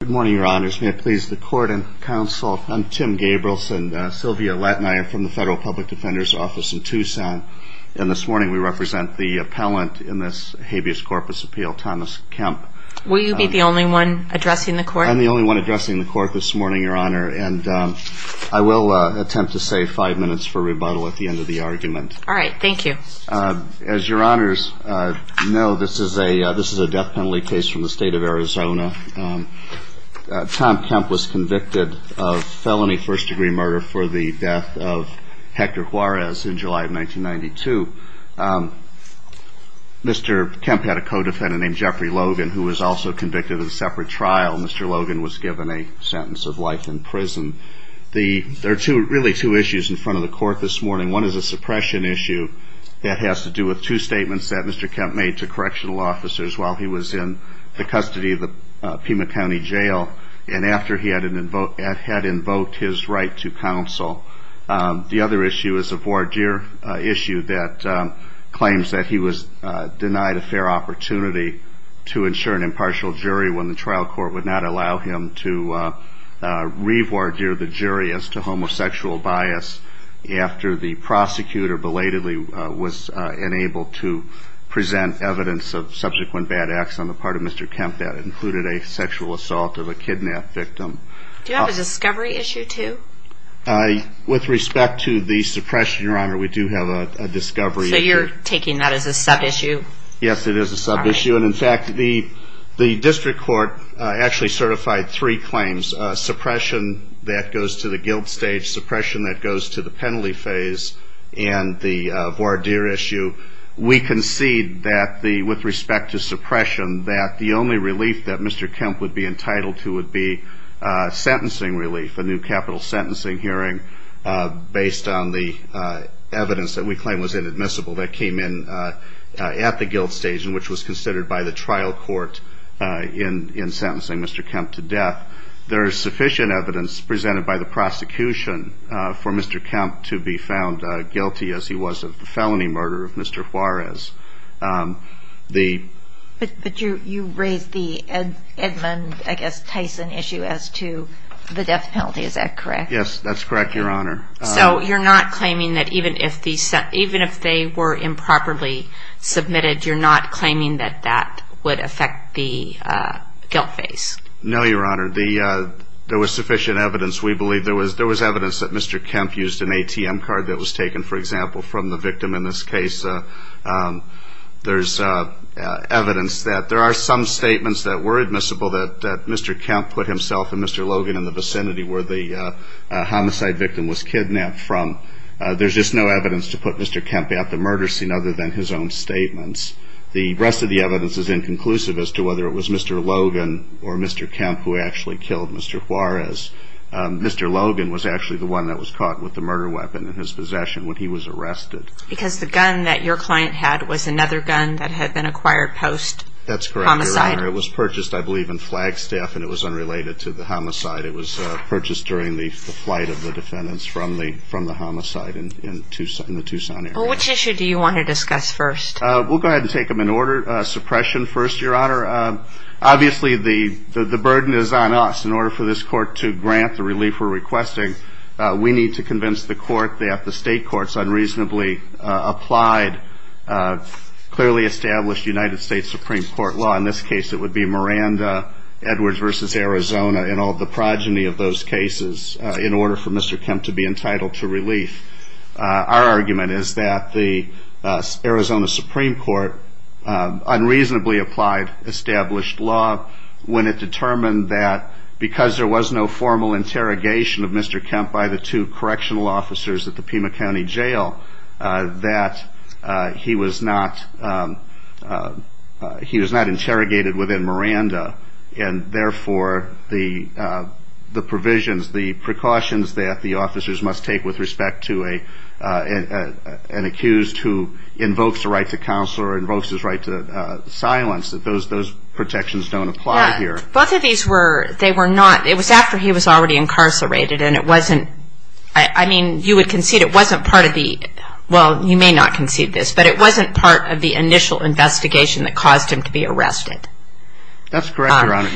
Good morning, your honors. May it please the court and counsel, I'm Tim Gabrielson, Sylvia Latina, I'm from the Federal Public Defender's Office in Tucson, and this morning we represent the appellant in this habeas corpus appeal, Thomas Kemp. Will you be the only one addressing the court? I'm the only one addressing the court this morning, your honor, and I will attempt to save five minutes for rebuttal at the end of the argument. All right, thank you. As your honors know, this is a death penalty case from the state of Arizona. Tom Kemp was convicted of felony first-degree murder for the death of Hector Juarez in July of 1992. Mr. Kemp had a co-defendant named Jeffrey Logan, who was also convicted in a separate trial. Mr. Logan was given a sentence of life in prison. There are really two issues in front of the court this morning. One is a suppression issue that has to do with two statements that Mr. Kemp made to correctional officers while he was in the custody of the Pima County Jail and after he had invoked his right to counsel. The other issue is a voir dire issue that claims that he was denied a fair opportunity to ensure an impartial jury when the trial court would not allow him to revoir dire the jury as to homosexual bias after the prosecutor belatedly was enabled to present evidence of subsequent bad acts on the part of Mr. Kemp that included a sexual assault of a kidnapped victim. Do you have a discovery issue, too? With respect to the suppression, Your Honor, we do have a discovery issue. So you're taking that as a sub-issue? Yes, it is a sub-issue. In fact, the district court actually certified three claims, suppression that goes to the guilt stage, suppression that goes to the penalty phase, and the voir dire issue. We concede that with respect to suppression that the only relief that Mr. Kemp would be entitled to would be sentencing relief, a new capital sentencing hearing based on the evidence that we claim was inadmissible that came in at the guilt stage and which was considered by the trial court in sentencing Mr. Kemp to death. There is sufficient evidence presented by the prosecution for Mr. Kemp to be found guilty as he was of the felony murder of Mr. Juarez. But you raised the Edmund, I guess, Tyson issue as to the death penalty. Is that correct? Yes, that's correct, Your Honor. So you're not claiming that even if they were improperly submitted, you're not claiming that that would affect the guilt phase? No, Your Honor. There was sufficient evidence. We believe there was evidence that Mr. Kemp used an ATM card that was taken, for example, from the victim in this case. There's evidence that there are some statements that were admissible that Mr. Kemp put himself and Mr. Logan in the vicinity where the homicide victim was kidnapped from. There's just no evidence to put Mr. Kemp at the murder scene other than his own statements. The rest of the evidence is inconclusive as to whether it was Mr. Logan or Mr. Kemp who actually killed Mr. Juarez. Mr. Logan was actually the one that was caught with the murder weapon in his possession when he was arrested. Because the gun that your client had was another gun that had been acquired post-homicide? That's correct, Your Honor. It was purchased, I believe, in Flagstaff, and it was unrelated to the homicide. It was purchased during the flight of the defendants from the homicide in the Tucson area. Which issue do you want to discuss first? We'll go ahead and take them in order. Suppression first, Your Honor. Obviously, the burden is on us in order for this court to grant the relief we're requesting. We need to convince the court that the state court's unreasonably applied, clearly established United States Supreme Court law, in this case it would be Miranda, Edwards v. Arizona, and all the progeny of those cases, in order for Mr. Kemp to be entitled to relief. Our argument is that the Arizona Supreme Court unreasonably applied established law, when it determined that because there was no formal interrogation of Mr. Kemp by the two correctional officers at the Pima County Jail, that he was not interrogated within Miranda. And therefore, the provisions, the precautions that the officers must take with respect to an accused who invokes the right to counsel or invokes his right to silence, that those protections don't apply here. Both of these were not, it was after he was already incarcerated, and it wasn't, I mean, you would concede it wasn't part of the, well, you may not concede this, but it wasn't part of the initial investigation that caused him to be arrested. That's correct, Your Honor.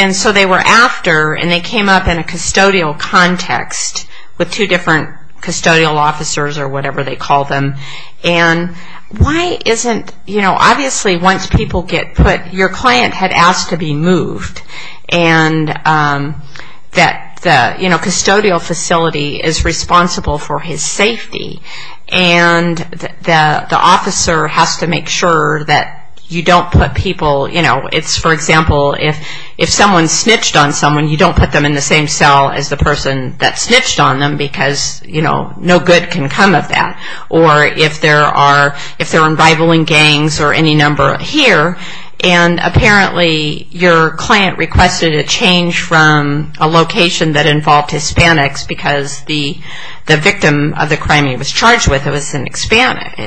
And so they were after, and they came up in a custodial context with two different custodial officers or whatever they call them, and why isn't, you know, obviously once people get put, your client had asked to be moved, and that the, you know, custodial facility is responsible for his safety, and the officer has to make sure that you don't put people, you know, it's, for example, if someone snitched on someone, you don't put them in the same cell as the person that snitched on them, because, you know, no good can come of that. Or if there are, if there are rivaling gangs or any number here, and apparently your client requested a change from a location that involved Hispanics, because the victim of the crime he was charged with was an Hispanic,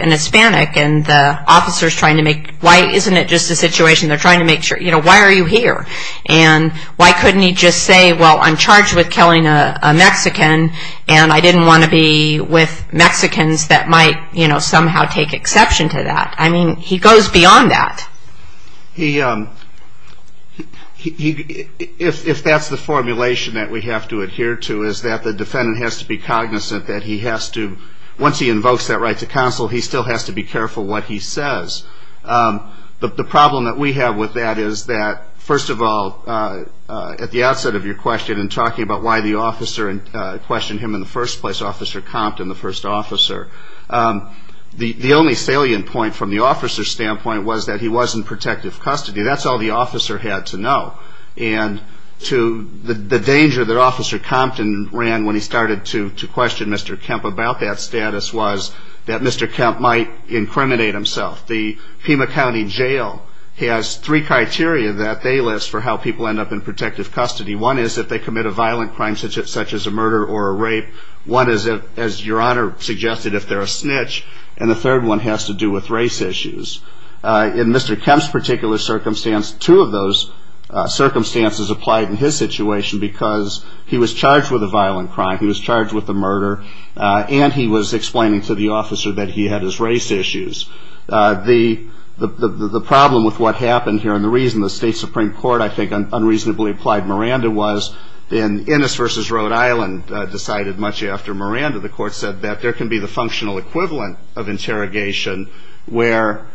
and the officer is trying to make, why, isn't it just a situation, they're trying to make sure, you know, why are you here? And why couldn't he just say, well, I'm charged with killing a Mexican, and I didn't want to be with Mexicans that might, you know, somehow take exception to that. I mean, he goes beyond that. He, if that's the formulation that we have to adhere to is that the defendant has to be cognizant that he has to, once he invokes that right to counsel, he still has to be careful what he says. But the problem that we have with that is that, first of all, at the outset of your question, in talking about why the officer questioned him in the first place, Officer Compton, the first officer, the only salient point from the officer's standpoint was that he was in protective custody. That's all the officer had to know. And to the danger that Officer Compton ran when he started to question Mr. Kemp about that status was that Mr. Kemp might incriminate himself. The Pima County Jail has three criteria that they list for how people end up in protective custody. One is that they commit a violent crime such as a murder or a rape. One is, as Your Honor suggested, if they're a snitch. And the third one has to do with race issues. In Mr. Kemp's particular circumstance, two of those circumstances applied in his situation because he was charged with a violent crime. He was charged with a murder. And he was explaining to the officer that he had his race issues. The problem with what happened here and the reason the State Supreme Court, I think, unreasonably applied Miranda was, in Innes v. Rhode Island decided much after Miranda, the court said that there can be the functional equivalent of interrogation where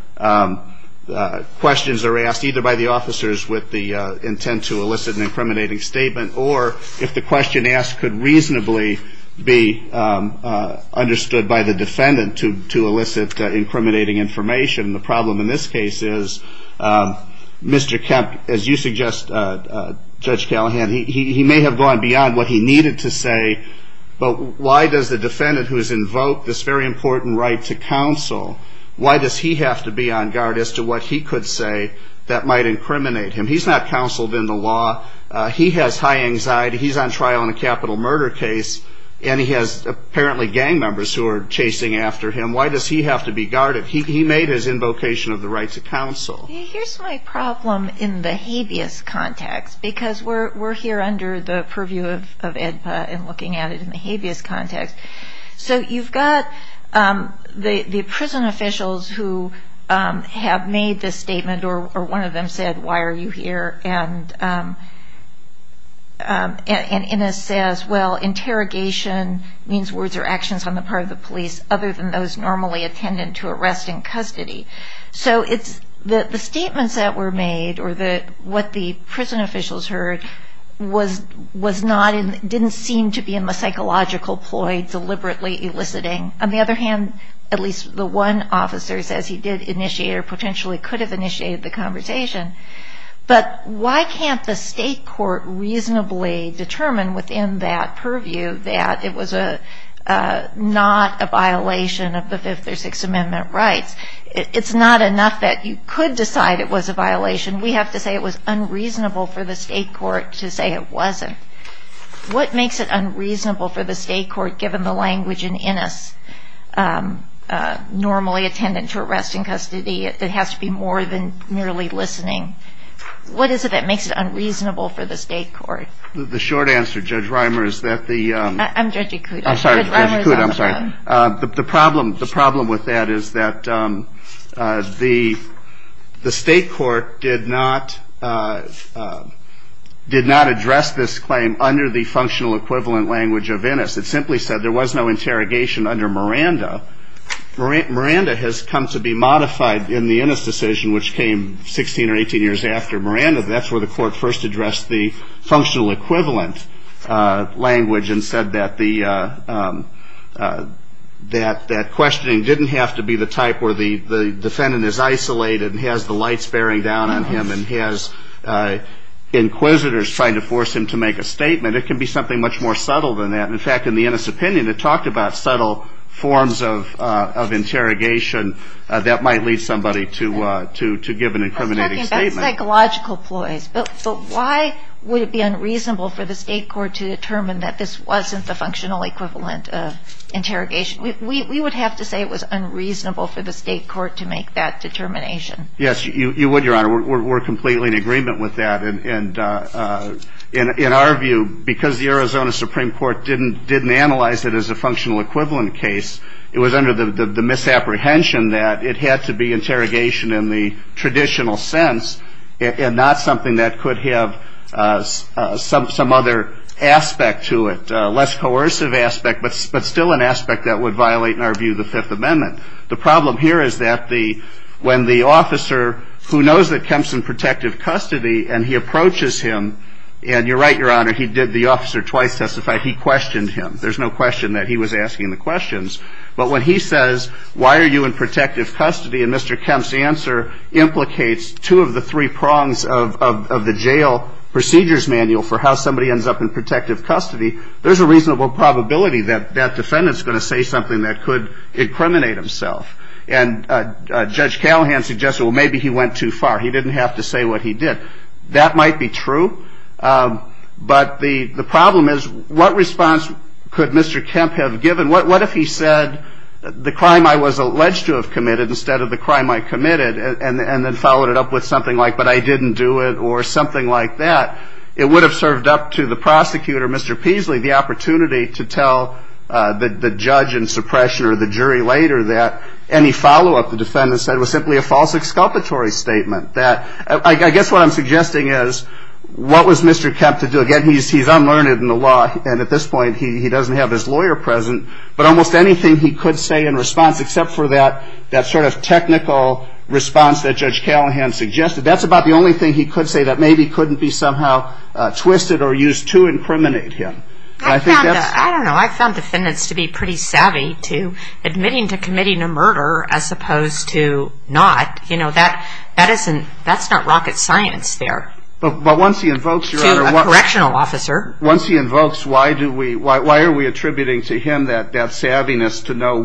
questions are asked either by the officers with the intent to elicit an incriminating statement or if the question asked could reasonably be understood by the defendant to elicit incriminating information. The problem in this case is Mr. Kemp, as you suggest, Judge Callahan, he may have gone beyond what he needed to say, but why does the defendant who has invoked this very important right to counsel, why does he have to be on guard as to what he could say that might incriminate him? He's not counseled in the law. He has high anxiety. He's on trial in a capital murder case and he has apparently gang members who are chasing after him. Why does he have to be guarded? He made his invocation of the right to counsel. Here's my problem in the habeas context because we're here under the purview of AEDPA and looking at it in the habeas context. So you've got the prison officials who have made this statement or one of them said, why are you here? And it says, well, interrogation means words or actions on the part of the police other than those normally attended to arrest in custody. So the statements that were made or what the prison officials heard didn't seem to be a psychological ploy deliberately eliciting. On the other hand, at least the one officer says he did initiate or potentially could have initiated the conversation. But why can't the state court reasonably determine within that purview that it was not a violation of the Fifth or Sixth Amendment rights? It's not enough that you could decide it was a violation. We have to say it was unreasonable for the state court to say it wasn't. What makes it unreasonable for the state court, given the language in Innis, normally attended to arrest in custody, that has to be more than merely listening? What is it that makes it unreasonable for the state court? The short answer, Judge Reimer, is that the- I'm Judge Acuda. I'm sorry, Judge Acuda, I'm sorry. The problem with that is that the state court did not address this claim under the functional equivalent language of Innis. It simply said there was no interrogation under Miranda. Miranda has come to be modified in the Innis decision, which came 16 or 18 years after Miranda. That's where the court first addressed the functional equivalent language and said that the- that questioning didn't have to be the type where the defendant is isolated and has the lights bearing down on him and he has inquisitors trying to force him to make a statement. It can be something much more subtle than that. In fact, in the Innis opinion, it talked about subtle forms of interrogation that might lead somebody to give an incriminating statement. Psychological ploys. But why would it be unreasonable for the state court to determine that this wasn't the functional equivalent of interrogation? We would have to say it was unreasonable for the state court to make that determination. Yes, you would, Your Honor. We're completely in agreement with that. And in our view, because the Arizona Supreme Court didn't analyze it as a functional equivalent case, it was under the misapprehension that it had to be interrogation in the traditional sense and not something that could have some other aspect to it, a less coercive aspect, but still an aspect that would violate, in our view, the Fifth Amendment. The problem here is that the- when the officer, who knows that Kemp's in protective custody, and he approaches him, and you're right, Your Honor, he did the officer twice testify. He questioned him. There's no question that he was asking the questions. But when he says, why are you in protective custody, and Mr. Kemp's answer implicates two of the three prongs of the jail procedures manual for how somebody ends up in protective custody, there's a reasonable probability that that defendant's going to say something that could incriminate himself. And Judge Callahan suggested, well, maybe he went too far. He didn't have to say what he did. That might be true. But the problem is, what response could Mr. Kemp have given? What if he said the crime I was alleged to have committed instead of the crime I committed and then followed it up with something like, but I didn't do it or something like that? It would have served up to the prosecutor, Mr. Peasley, the opportunity to tell the judge in suppression or the jury later that any follow-up the defendant said was simply a false exculpatory statement. I guess what I'm suggesting is, what was Mr. Kemp to do? Again, he's unlearned in the law, and at this point he doesn't have his lawyer present. But almost anything he could say in response except for that sort of technical response that Judge Callahan suggested, that's about the only thing he could say that maybe couldn't be somehow twisted or used to incriminate him. I don't know. I found defendants to be pretty savvy to admitting to committing a murder as opposed to not. You know, that's not rocket science there. But once he invokes, Your Honor, once he invokes, why are we attributing to him that savviness to know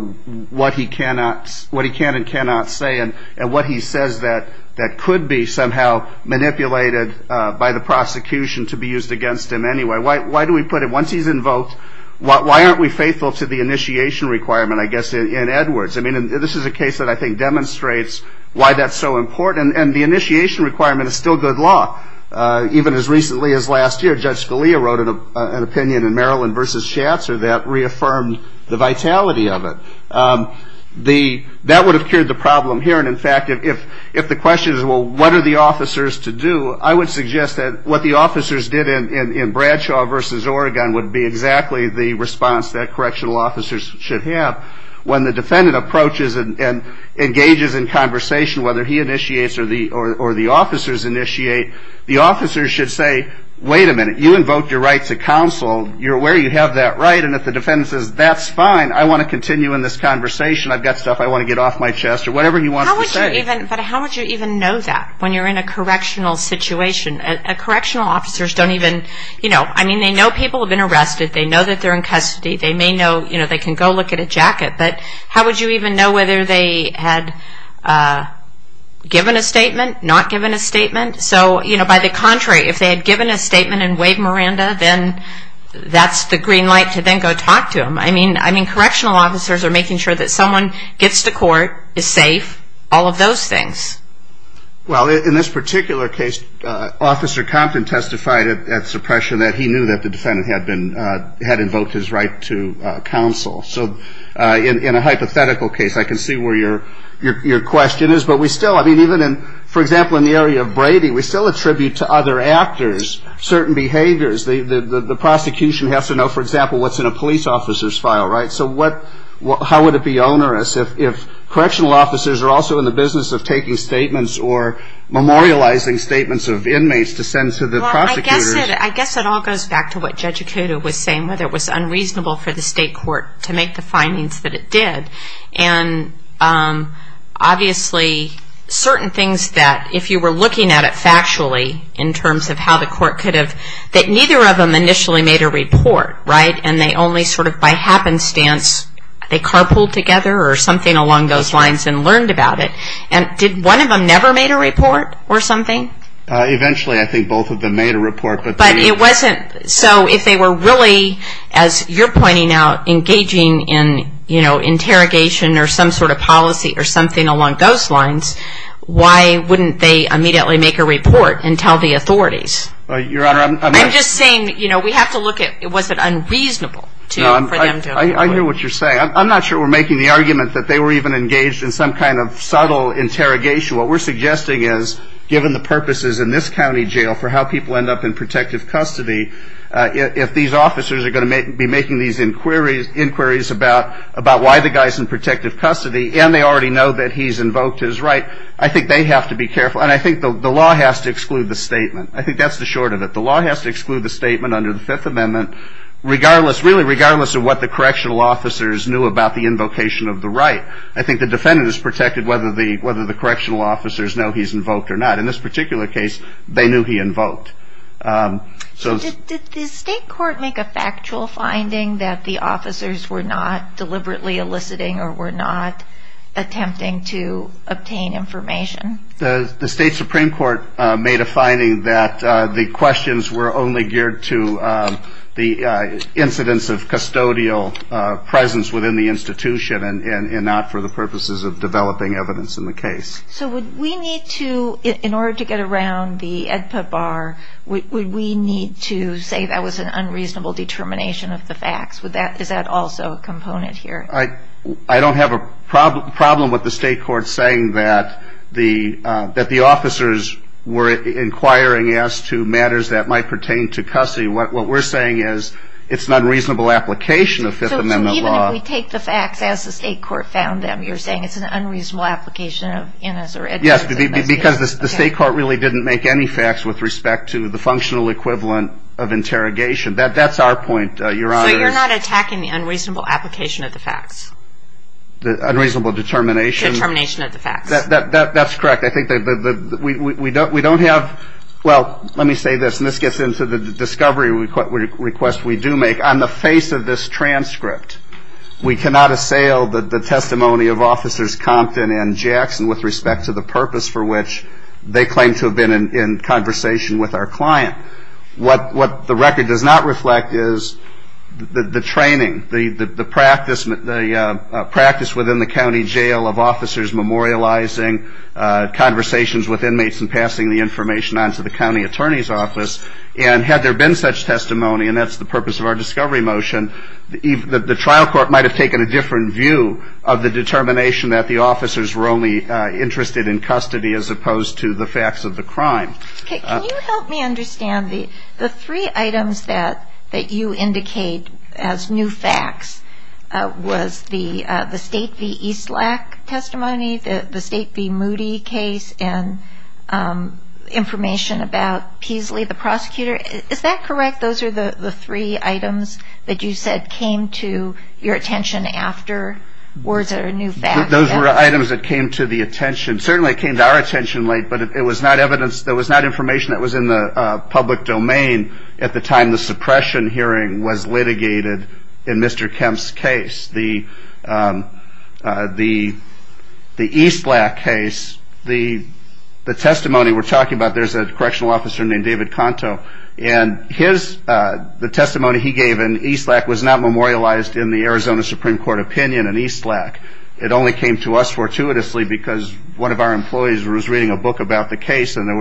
what he can and cannot say and what he says that could be somehow manipulated by the prosecution to be used against him anyway? Why do we put it, once he's invoked, why aren't we faithful to the initiation requirement, I guess, in Edwards? I mean, this is a case that I think demonstrates why that's so important. And the initiation requirement is still good law. Even as recently as last year, Judge Scalia wrote an opinion in Maryland v. Schatzer that reaffirmed the vitality of it. That would have cured the problem here. And, in fact, if the question is, well, what are the officers to do, I would suggest that what the officers did in Bradshaw v. Oregon would be exactly the response that correctional officers should have when the defendant approaches and engages in conversation, whether he initiates or the officers initiate. The officers should say, wait a minute, you invoked your right to counsel. You're aware you have that right. And if the defendant says, that's fine, I want to continue in this conversation. I've got stuff I want to get off my chest or whatever you want to say. But how would you even know that when you're in a correctional situation? Correctional officers don't even, you know, I mean, they know people have been arrested. They know that they're in custody. They may know, you know, they can go look at a jacket. But how would you even know whether they had given a statement, not given a statement? So, you know, by the contrary, if they had given a statement in Wade-Miranda, then that's the green light to then go talk to them. I mean, correctional officers are making sure that someone gets to court, is safe, all of those things. Well, in this particular case, Officer Compton testified at suppression that he knew that the defendant had invoked his right to counsel. So in a hypothetical case, I can see where your question is. But we still, I mean, even in, for example, in the area of Brady, we still attribute to other actors certain behaviors. The prosecution has to know, for example, what's in a police officer's file, right? So what, how would it be onerous if correctional officers are also in the business of taking statements or memorializing statements of inmates to send to the prosecutors? Well, I guess it all goes back to what Judge Acuda was saying, whether it was unreasonable for the state court to make the findings that it did. And obviously certain things that if you were looking at it factually in terms of how the court could have, that neither of them initially made a report, right? And they only sort of by happenstance, they carpooled together or something along those lines and learned about it. And did one of them never made a report or something? Eventually, I think both of them made a report. But it wasn't, so if they were really, as you're pointing out, engaging in, you know, interrogation or some sort of policy or something along those lines, why wouldn't they immediately make a report and tell the authorities? I'm just saying, you know, we have to look at was it unreasonable for them to. I hear what you're saying. I'm not sure we're making the argument that they were even engaged in some kind of subtle interrogation. What we're suggesting is given the purposes in this county jail for how people end up in protective custody, if these officers are going to be making these inquiries about why the guy's in protective custody and they already know that he's invoked his right, I think they have to be careful. And I think the law has to exclude the statement. I think that's the short of it. The law has to exclude the statement under the Fifth Amendment, really regardless of what the correctional officers knew about the invocation of the right. I think the defendant is protected whether the correctional officers know he's invoked or not. In this particular case, they knew he invoked. Did the state court make a factual finding that the officers were not deliberately eliciting or were not attempting to obtain information? The state supreme court made a finding that the questions were only geared to the incidence of custodial presence within the institution and not for the purposes of developing evidence in the case. So would we need to, in order to get around the EDPA bar, would we need to say that was an unreasonable determination of the facts? Is that also a component here? I don't have a problem with the state court saying that the officers were inquiring as to matters that might pertain to custody. What we're saying is it's an unreasonable application of Fifth Amendment law. So even if we take the facts as the state court found them, you're saying it's an unreasonable application of MS or EDPA? Yes, because the state court really didn't make any facts with respect to the functional equivalent of interrogation. That's our point. But you're not attacking the unreasonable application of the facts? The unreasonable determination? Determination of the facts. That's correct. I think we don't have – well, let me say this, and this gets into the discovery request we do make. On the face of this transcript, we cannot assail the testimony of Officers Compton and Jackson with respect to the purpose for which they claim to have been in conversation with our client. What the record does not reflect is the training, the practice within the county jail of officers memorializing conversations with inmates and passing the information on to the county attorney's office. And had there been such testimony, and that's the purpose of our discovery motion, the trial court might have taken a different view of the determination that the officers were only interested in custody as opposed to the facts of the crime. Okay. Can you help me understand the three items that you indicate as new facts? Was the state v. Eastlack testimony, the state v. Moody case, and information about Peasley, the prosecutor? Is that correct? Those are the three items that you said came to your attention after? Were there new facts? Those were items that came to the attention. Certainly it came to our attention late, but it was not information that was in the public domain at the time the suppression hearing was litigated in Mr. Kemp's case. The Eastlack case, the testimony we're talking about, there's a correctional officer named David Conto, and the testimony he gave in Eastlack was not memorialized in the Arizona Supreme Court opinion in Eastlack. It only came to us fortuitously because one of our employees was reading a book about the case and there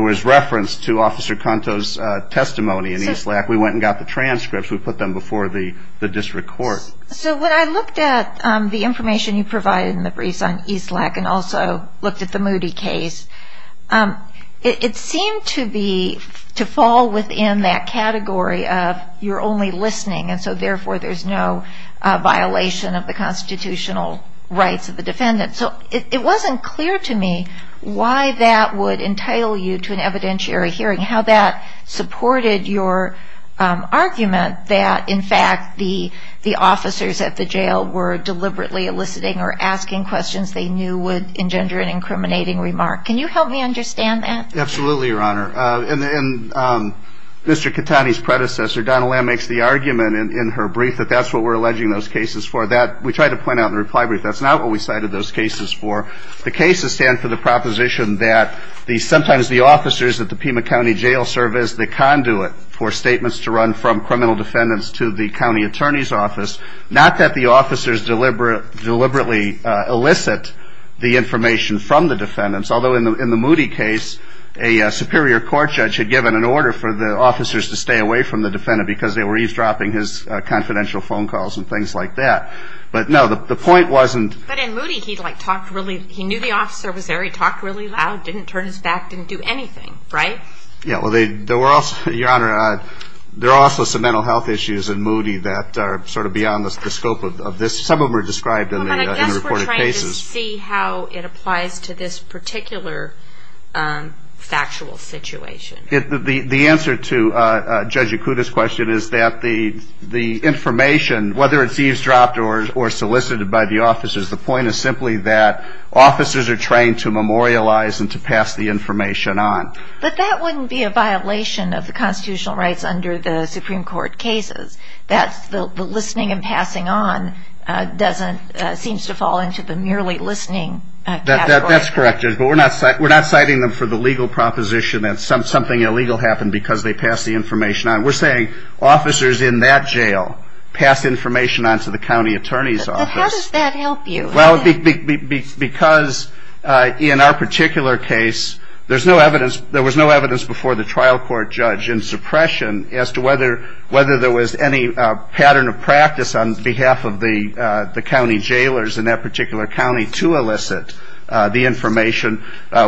was reference to Officer Conto's testimony in Eastlack. We went and got the transcripts. We put them before the district court. So when I looked at the information you provided in the brief on Eastlack and also looked at the Moody case, it seemed to fall within that category of you're only listening, and so therefore there's no violation of the constitutional rights of the defendant. So it wasn't clear to me why that would entitle you to an evidentiary hearing, how that supported your argument that, in fact, the officers at the jail were deliberately eliciting or asking questions they knew would engender an incriminating remark. Can you help me understand that? Absolutely, Your Honor. And Mr. Catani's predecessor, Donna Lamb, makes the argument in her brief that that's what we're alleging those cases for. We tried to point out in the reply brief that's not what we cited those cases for. The cases stand for the proposition that sometimes the officers at the Pima County Jail serve as the conduit for statements to run from criminal defendants to the county attorney's office, not that the officers deliberately elicit the information from the defendants, although in the Moody case a superior court judge had given an order for the officers to stay away from the defendant because they were eavesdropping his confidential phone calls and things like that. But, no, the point wasn't... But in Moody he knew the officer was there, he talked really loud, didn't turn his back, didn't do anything, right? Yeah, well, Your Honor, there are also some mental health issues in Moody that are sort of beyond the scope of this. Some of them are described in the reported cases. Can you see how it applies to this particular factual situation? The answer to Judge Yakuta's question is that the information, whether it's eavesdropped or solicited by the officers, the point is simply that officers are trained to memorialize and to pass the information on. But that wouldn't be a violation of the constitutional rights under the Supreme Court cases. The listening and passing on seems to fall into the merely listening category. That's correct. But we're not citing them for the legal proposition that something illegal happened because they passed the information on. We're saying officers in that jail passed information on to the county attorney's office. But how does that help you? Well, because in our particular case there was no evidence before the trial court judge in suppression as to whether there was any pattern of practice on behalf of the county jailers in that particular county to elicit the information.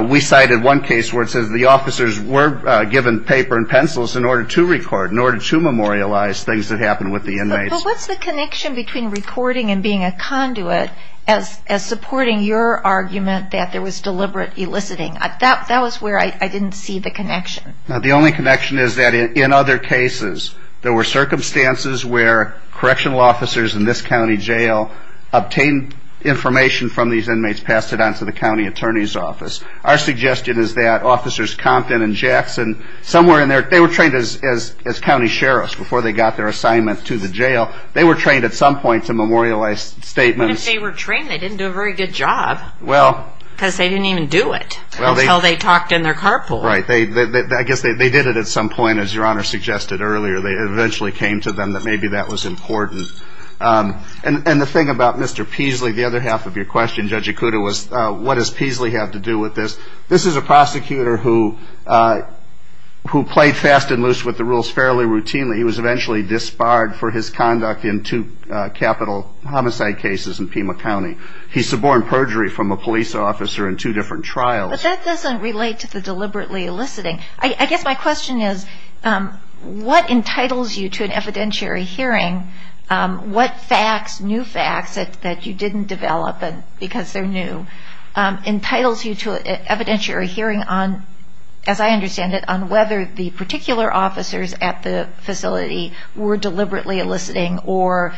We cited one case where it says the officers were given paper and pencils in order to record, in order to memorialize things that happened with the inmates. So what's the connection between recording and being a conduit as supporting your argument that there was deliberate eliciting? That was where I didn't see the connection. The only connection is that in other cases there were circumstances where correctional officers in this county jail obtained information from these inmates, passed it on to the county attorney's office. Our suggestion is that officers Compton and Jackson, somewhere in there, they were trained as county sheriffs before they got their assignments to the jail. They were trained at some point to memorialize statements. But if they were trained, they didn't do a very good job because they didn't even do it, how they talked in their carpool. Right. They did it at some point, as Your Honor suggested earlier. It eventually came to them that maybe that was important. And the thing about Mr. Peasley, the other half of your question, Judge Ikuda, was what does Peasley have to do with this? This is a prosecutor who played fast and loose with the rules fairly routinely. He was eventually disbarred for his conduct in two capital homicide cases in Pima County. He suborned perjury from a police officer in two different trials. But that doesn't relate to the deliberately eliciting. I guess my question is what entitles you to an evidentiary hearing? What facts, new facts that you didn't develop because they're new, entitles you to an evidentiary hearing on, as I understand it, on whether the particular officers at the facility were deliberately eliciting or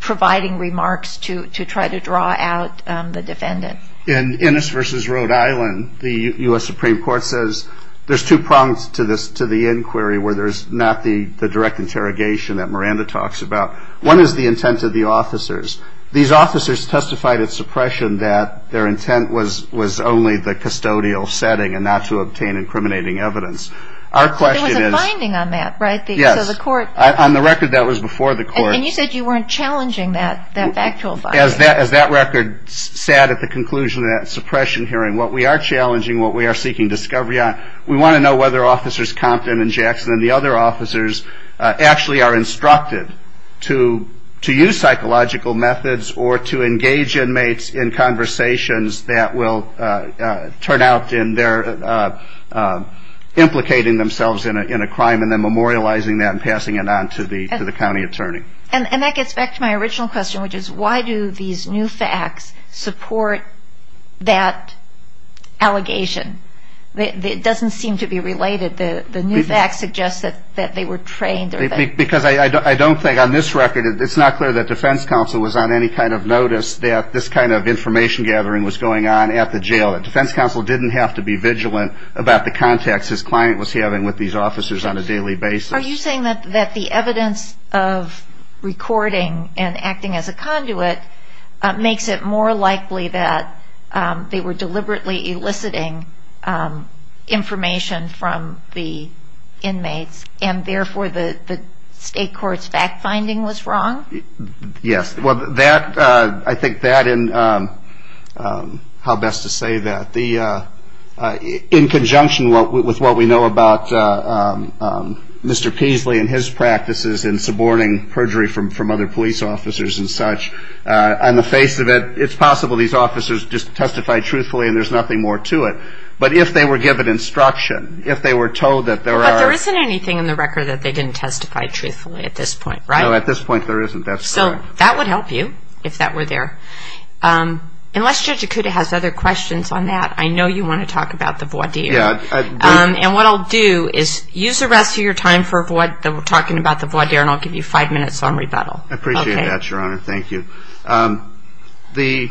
providing remarks to try to draw out the defendant? In Ennis v. Rhode Island, the U.S. Supreme Court says there's two prongs to the inquiry where there's not the direct interrogation that Miranda talks about. One is the intent of the officers. These officers testified at suppression that their intent was only the custodial setting and not to obtain incriminating evidence. There was a finding on that, right? Yes. On the record, that was before the court. And you said you weren't challenging that actual finding. As that record said at the conclusion of that suppression hearing, what we are challenging, what we are seeking discovery on, we want to know whether Officers Compton and Jackson and the other officers actually are instructed to use psychological methods or to engage inmates in conversations that will turn out in their implicating themselves in a crime and then memorializing that and passing it on to the county attorney. And that gets back to my original question, which is why do these new facts support that allegation? It doesn't seem to be related. The new facts suggest that they were trained. Because I don't think on this record, it's not clear that defense counsel was on any kind of notice that this kind of information gathering was going on at the jail. Defense counsel didn't have to be vigilant about the contacts his client was having with these officers on a daily basis. Are you saying that the evidence of recording and acting as a conduit makes it more likely that they were deliberately eliciting information from the inmates and therefore the state court's fact finding was wrong? Yes. I think that and how best to say that. In conjunction with what we know about Mr. Peasley and his practices in suborning perjury from other police officers and such, on the face of it, it's possible these officers just testified truthfully and there's nothing more to it. But if they were given instruction, if they were told that there are- But there isn't anything in the record that they didn't testify truthfully at this point, right? No, at this point there isn't. So that would help you if that were there. Unless Judge Acuda has other questions on that, I know you want to talk about the voir dire. And what I'll do is use the rest of your time for talking about the voir dire and I'll give you five minutes on rebuttal. I appreciate that, Your Honor. Thank you. The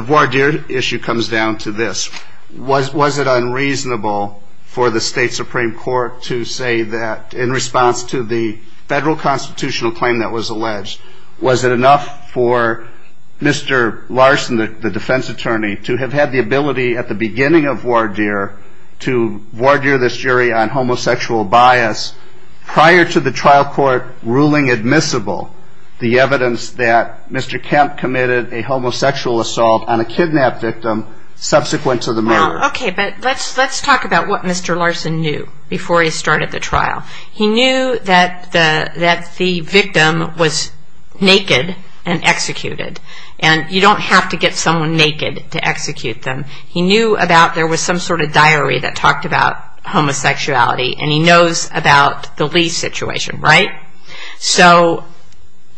voir dire issue comes down to this. Was it unreasonable for the state supreme court to say that in response to the federal constitutional claim that was alleged, was it enough for Mr. Larson, the defense attorney, to have had the ability at the beginning of voir dire to voir dire this jury on homosexual bias prior to the trial court ruling admissible the evidence that Mr. Kemp committed a homosexual assault on a kidnap victim subsequent to the murder? Okay, but let's talk about what Mr. Larson knew before he started the trial. He knew that the victim was naked and executed. And you don't have to get someone naked to execute them. He knew about there was some sort of diary that talked about homosexuality and he knows about the Lee situation, right? So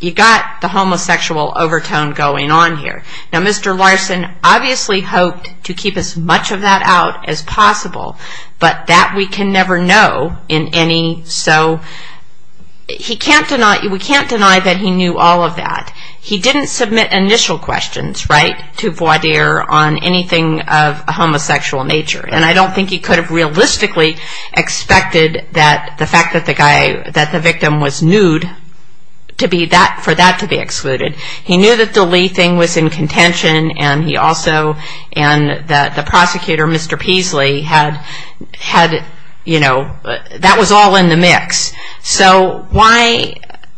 you've got the homosexual overtone going on here. Now, Mr. Larson obviously hoped to keep as much of that out as possible, but that we can never know in any. So we can't deny that he knew all of that. He didn't submit initial questions, right, to voir dire on anything of a homosexual nature, and I don't think he could have realistically expected that the fact that the victim was nude for that to be excluded. He knew that the Lee thing was in contention, and he also and the prosecutor, Mr. Peasley, had, you know, that was all in the mix. So why,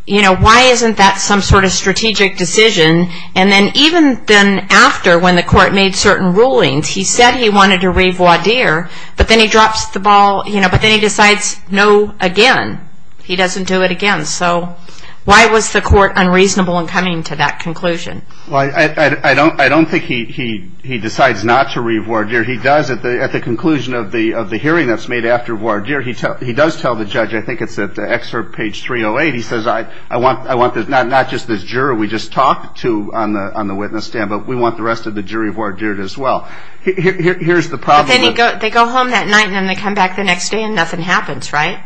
you know, why isn't that some sort of strategic decision? And then even then after when the court made certain rulings, he said he wanted to revoir dire, but then he drops the ball, you know, but then he decides no again. He doesn't do it again. So why was the court unreasonable in coming to that conclusion? Well, I don't think he decides not to revoir dire. He does at the conclusion of the hearing that's made after voir dire, he does tell the judge, I think it's at the excerpt page 308, he says I want not just this juror we just talked to on the witness stand, but we want the rest of the jury voir dired as well. Here's the problem. But then they go home that night and then they come back the next day and nothing happens, right?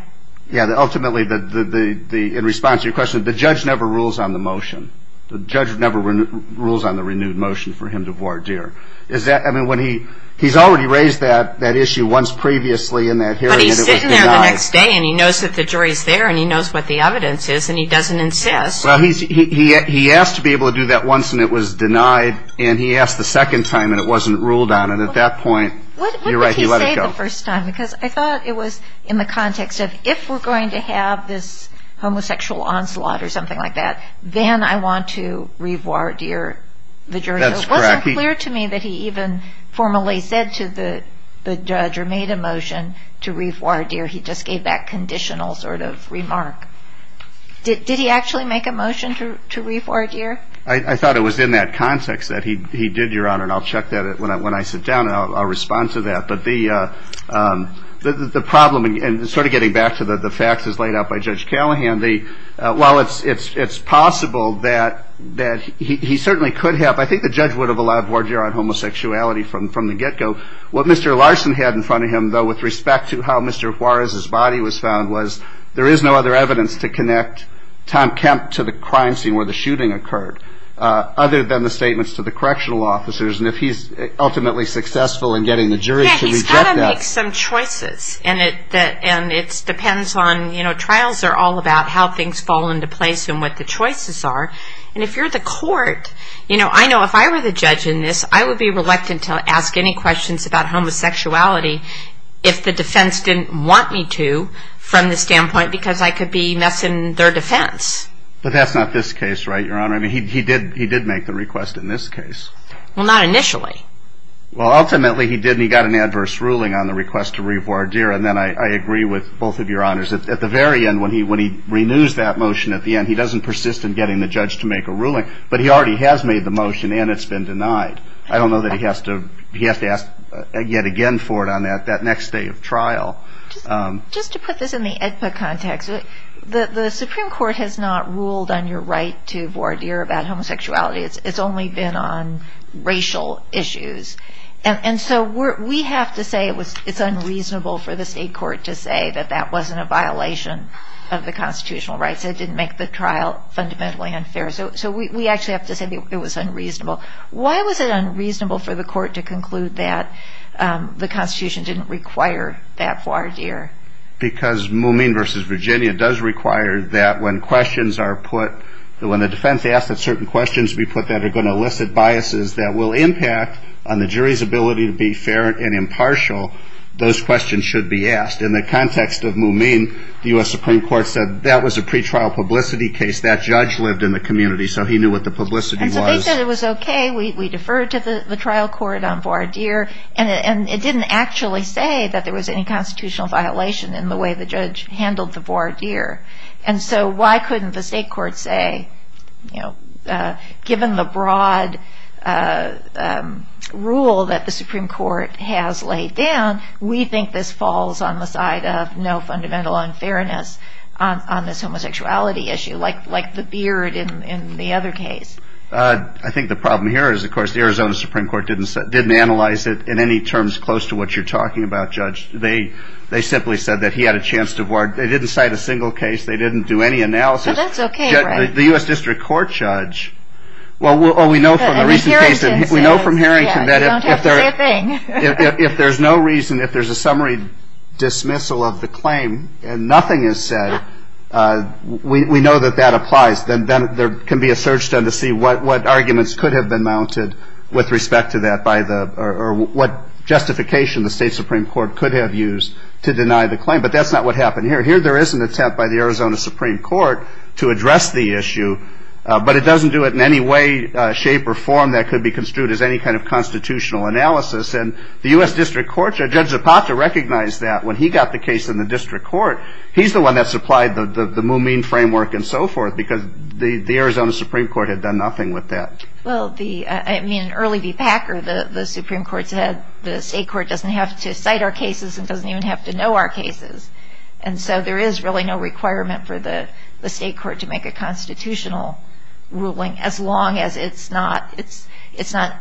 Yeah, ultimately in response to your question, the judge never rules on the motion. The judge never rules on the renewed motion for him to voir dire. He's already raised that issue once previously in that hearing. But he's sitting there the next day and he knows that the jury is there and he knows what the evidence is and he doesn't insist. Well, he asked to be able to do that once and it was denied and he asked the second time and it wasn't ruled on and at that point you're right, he let it go. What did he say the first time? Because I thought it was in the context of if we're going to have this homosexual onslaught or something like that, then I want to voir dire the jury. That's correct. It's clear to me that he even formally said to the judge or made a motion to voir dire. He just gave that conditional sort of remark. Did he actually make a motion to voir dire? I thought it was in that context that he did, Your Honor, and I'll check that when I sit down and I'll respond to that. But the problem, and sort of getting back to the facts as laid out by Judge Callahan, while it's possible that he certainly could have, I think the judge would have allowed voir dire on homosexuality from the get-go, what Mr. Larson had in front of him, though, with respect to how Mr. Juarez's body was found, was there is no other evidence to connect Tom Kemp to the crime scene where the shooting occurred other than the statements to the correctional officers. And if he's ultimately successful in getting the jury to reject that. Yeah, he's got to make some choices, and it depends on, you know, trials are all about how things fall into place and what the choices are. And if you're the court, you know, I know if I were the judge in this, I would be reluctant to ask any questions about homosexuality if the defense didn't want me to from the standpoint because I could be messing their defense. But that's not this case, right, Your Honor? I mean, he did make the request in this case. Well, not initially. Well, ultimately he did, and he got an adverse ruling on the request to revoir dire, and then I agree with both of Your Honors. At the very end, when he renews that motion at the end, he doesn't persist in getting the judge to make a ruling, but he already has made the motion, and it's been denied. I don't know that he has to ask yet again for it on that next day of trial. Just to put this in the EDSA context, the Supreme Court has not ruled on your right to voir dire about homosexuality. It's only been on racial issues. And so we have to say it's unreasonable for the state court to say that that wasn't a violation of the constitutional rights. It didn't make the trial fundamentally unfair. So we actually have to say it was unreasonable. Why was it unreasonable for the court to conclude that the Constitution didn't require that voir dire? Because Mumine v. Virginia does require that when questions are put, when the defense asks that certain questions be put that are going to elicit biases that will impact on the jury's ability to be fair and impartial, those questions should be asked. In the context of Mumine, the U.S. Supreme Court said that was a pretrial publicity case. That judge lived in the community, so he knew what the publicity was. They said it was okay. We deferred to the trial court on voir dire, and it didn't actually say that there was any constitutional violation in the way the judge handled the voir dire. And so why couldn't the state court say, you know, given the broad rule that the Supreme Court has laid down, we think this falls on the side of no fundamental unfairness on this homosexuality issue, like the beard in the other case. I think the problem here is, of course, the Arizona Supreme Court didn't analyze it in any terms close to what you're talking about, Judge. They simply said that he had a chance to voir dire. They didn't cite a single case. They didn't do any analysis. But that's okay, right? The U.S. District Court, Judge. Well, we know from a recent case that if there's no reason, if there's a summary dismissal of the claim and nothing is said, we know that that applies. Then there can be a search done to see what arguments could have been mounted with respect to that or what justification the state Supreme Court could have used to deny the claim. But that's not what happened here. Here there is an attempt by the Arizona Supreme Court to address the issue, but it doesn't do it in any way, shape, or form that could be construed as any kind of constitutional analysis. And the U.S. District Court, Judge Zapata recognized that when he got the case in the district court. He's the one that supplied the Mumin framework and so forth because the Arizona Supreme Court had done nothing with that. Well, I mean, early the PAC or the Supreme Court said the state court doesn't have to cite our cases and doesn't even have to know our cases. And so there is really no requirement for the state court to make a constitutional ruling as long as it's not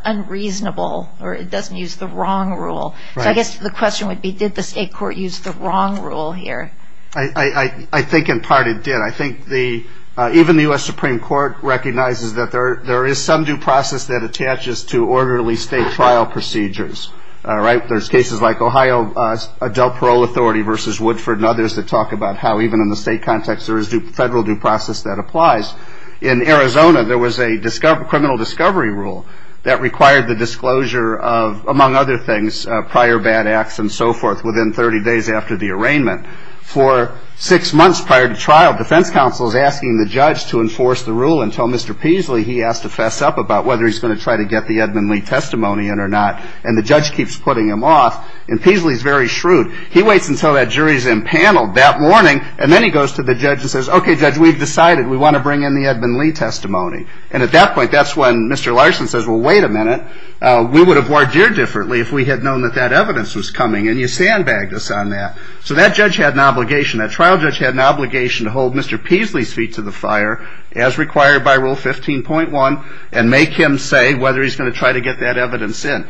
unreasonable or it doesn't use the wrong rule. I guess the question would be did the state court use the wrong rule here? I think in part it did. I think even the U.S. Supreme Court recognizes that there is some due process that attaches to orderly state trial procedures. There's cases like Ohio Adult Parole Authority versus Woodford and others that talk about how even in the state context there is federal due process that applies. In Arizona there was a criminal discovery rule that required the disclosure of, among other things, prior bad acts and so forth within 30 days after the arraignment. For six months prior to trial, defense counsel is asking the judge to enforce the rule until Mr. Peasley, he has to fess up about whether he's going to try to get the Edmund Lee testimony in or not, and the judge keeps putting him off. And Peasley is very shrewd. He waits until that jury is impaneled that morning, and then he goes to the judge and says, okay, judge, we've decided we want to bring in the Edmund Lee testimony. And at that point that's when Mr. Larson says, well, wait a minute. We would have worked here differently if we had known that that evidence was coming, and you sandbagged us on that. So that judge had an obligation, that trial judge had an obligation to hold Mr. Peasley's feet to the fire, as required by Rule 15.1, and make him say whether he's going to try to get that evidence in.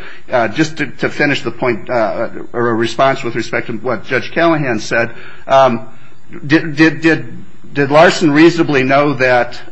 Just to finish the point or a response with respect to what Judge Callahan said, did Larson reasonably know that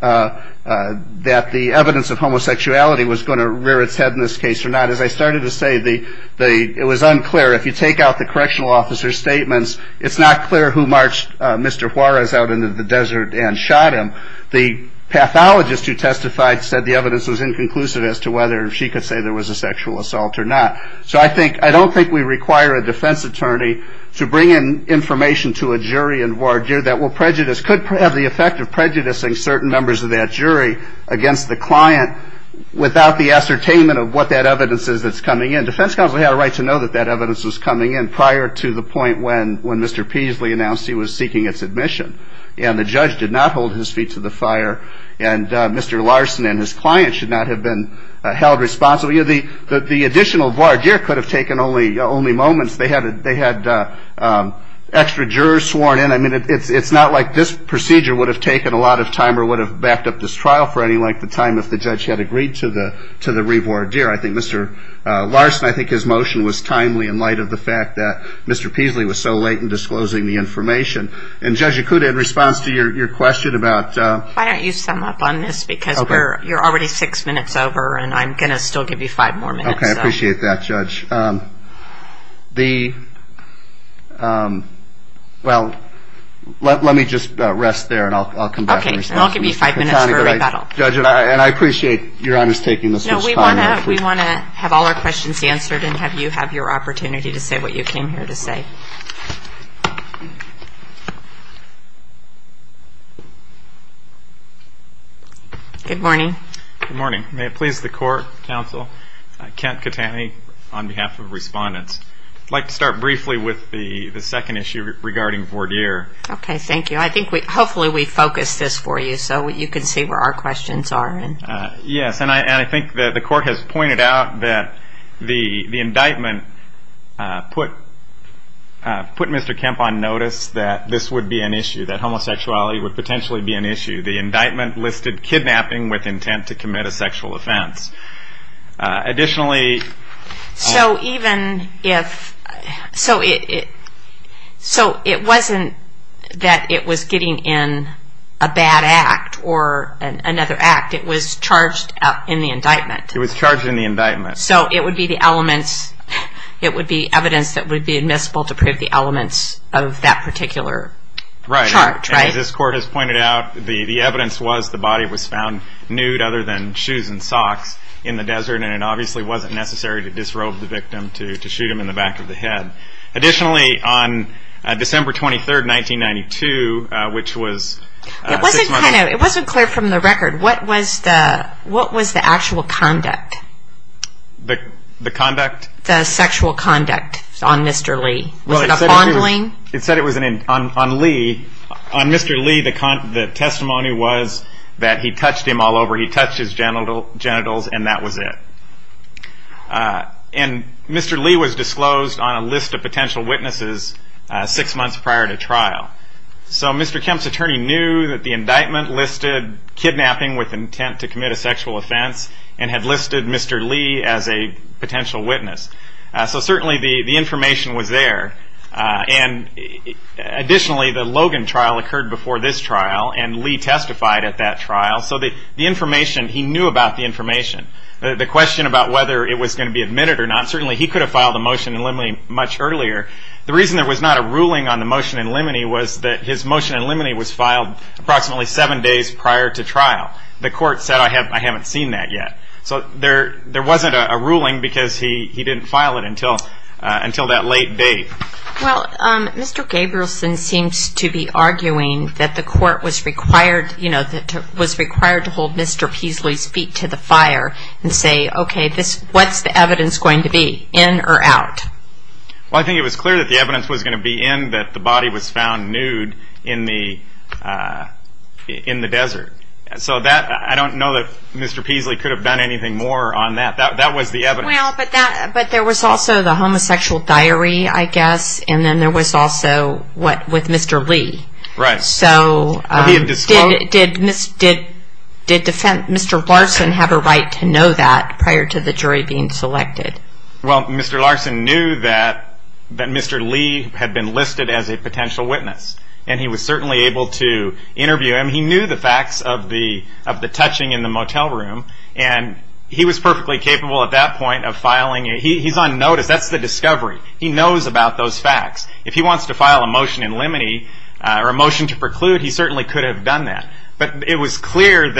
the evidence of homosexuality was going to rear its head in this case or not? As I started to say, it was unclear. If you take out the correctional officer's statements, it's not clear who marched Mr. Juarez out into the desert and shot him. The pathologist who testified said the evidence was inconclusive as to whether she could say there was a sexual assault or not. So I don't think we require a defense attorney to bring in information to a jury that could have the effect of prejudicing certain members of that jury against the client without the ascertainment of what that evidence is that's coming in. Defense counsel had a right to know that that evidence was coming in prior to the point when Mr. Peasley announced he was seeking its admission. And the judge did not hold his feet to the fire, and Mr. Larson and his client should not have been held responsible. The additional voir dire could have taken only moments. They had extra jurors sworn in. I mean, it's not like this procedure would have taken a lot of time or would have backed up this trial for any length of time if the judge had agreed to the revoir dire. I think Mr. Larson, I think his motion was timely in light of the fact that Mr. Peasley was so late in disclosing the information. And Judge Yakuta, in response to your question about – Why don't you sum up on this because you're already six minutes over and I'm going to still give you five more minutes. Okay, I appreciate that, Judge. The – well, let me just rest there and I'll come back to you. Okay, and I'll give you five minutes. Judge, and I appreciate your undertaking this. No, we want to have all our questions answered and have you have your opportunity to say what you came here to say. Good morning. Good morning. May it please the court, counsel, Kent Katani on behalf of respondents. I'd like to start briefly with the second issue regarding voir dire. Okay, thank you. I think we – hopefully we focused this for you so you can see where our questions are. Yes, and I think the court has pointed out that the indictment put Mr. Kemp on notice that this would be an issue, that homosexuality would potentially be an issue. The indictment listed kidnapping with intent to commit a sexual offense. Additionally – So even if – so it wasn't that it was getting in a bad act or another act. It was charged in the indictment. It was charged in the indictment. So it would be the elements – it would be evidence that would be admissible to prove the elements of that particular charge, right? As this court has pointed out, the evidence was the body was found nude other than shoes and socks in the desert and it obviously wasn't necessary to disrobe the victim to shoot him in the back of the head. Additionally, on December 23, 1992, which was – It wasn't kind of – it wasn't clear from the record. What was the actual conduct? The conduct? The sexual conduct on Mr. Lee. Was it a fondling? It said it was on Lee. On Mr. Lee, the testimony was that he touched him all over. He touched his genitals and that was it. And Mr. Lee was disclosed on a list of potential witnesses six months prior to trial. So Mr. Kemp's attorney knew that the indictment listed kidnapping with intent to commit a sexual offense and had listed Mr. Lee as a potential witness. So certainly the information was there. And additionally, the Logan trial occurred before this trial and Lee testified at that trial. So the information – he knew about the information. The question about whether it was going to be admitted or not, certainly he could have filed a motion in limine much earlier. The reason there was not a ruling on the motion in limine was that his motion in limine was filed approximately seven days prior to trial. The court said, I haven't seen that yet. So there wasn't a ruling because he didn't file it until that late date. Well, Mr. Gabrielson seems to be arguing that the court was required to hold Mr. Peasley's feet to the fire and say, okay, what's the evidence going to be, in or out? Well, I think it was clear that the evidence was going to be in that the body was found nude in the desert. So I don't know that Mr. Peasley could have done anything more on that. That was the evidence. Well, but there was also the homosexual diary, I guess, and then there was also what was Mr. Lee. Right. So did Mr. Larson have a right to know that prior to the jury being selected? Well, Mr. Larson knew that Mr. Lee had been listed as a potential witness, and he was certainly able to interview him. And he knew the facts of the touching in the motel room, and he was perfectly capable at that point of filing it. He's on notice. That's the discovery. He knows about those facts. If he wants to file a motion in limine or a motion to preclude, he certainly could have done that. But it was clear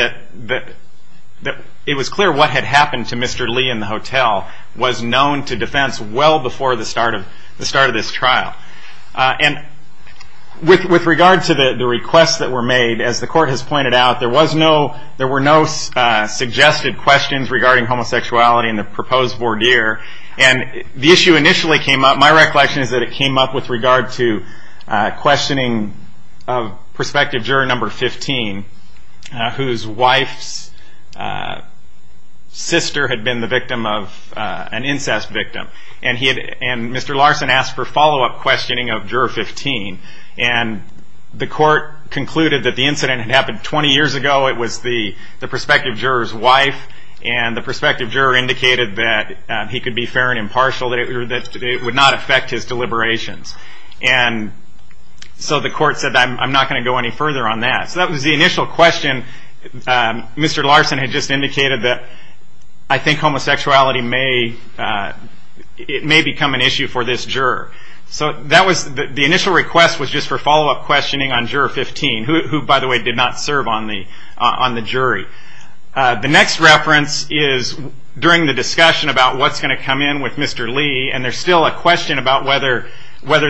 what had happened to Mr. Lee in the hotel was known to defense well before the start of this trial. And with regard to the requests that were made, as the court has pointed out, there were no suggested questions regarding homosexuality in the proposed voir dire. And the issue initially came up, my recollection is that it came up with regard to questioning of prospective juror number 15, whose wife's sister had been the victim of an incest victim. And Mr. Larson asked for follow-up questioning of juror 15. And the court concluded that the incident had happened 20 years ago. It was the prospective juror's wife. And the prospective juror indicated that he could be fair and impartial, that it would not affect his deliberations. And so the court said, I'm not going to go any further on that. So that was the initial question. Mr. Larson had just indicated that I think homosexuality may become an issue for this juror. So the initial request was just for follow-up questioning on juror 15, who, by the way, did not serve on the jury. The next reference is during the discussion about what's going to come in with Mr. Lee, and there's still a question about whether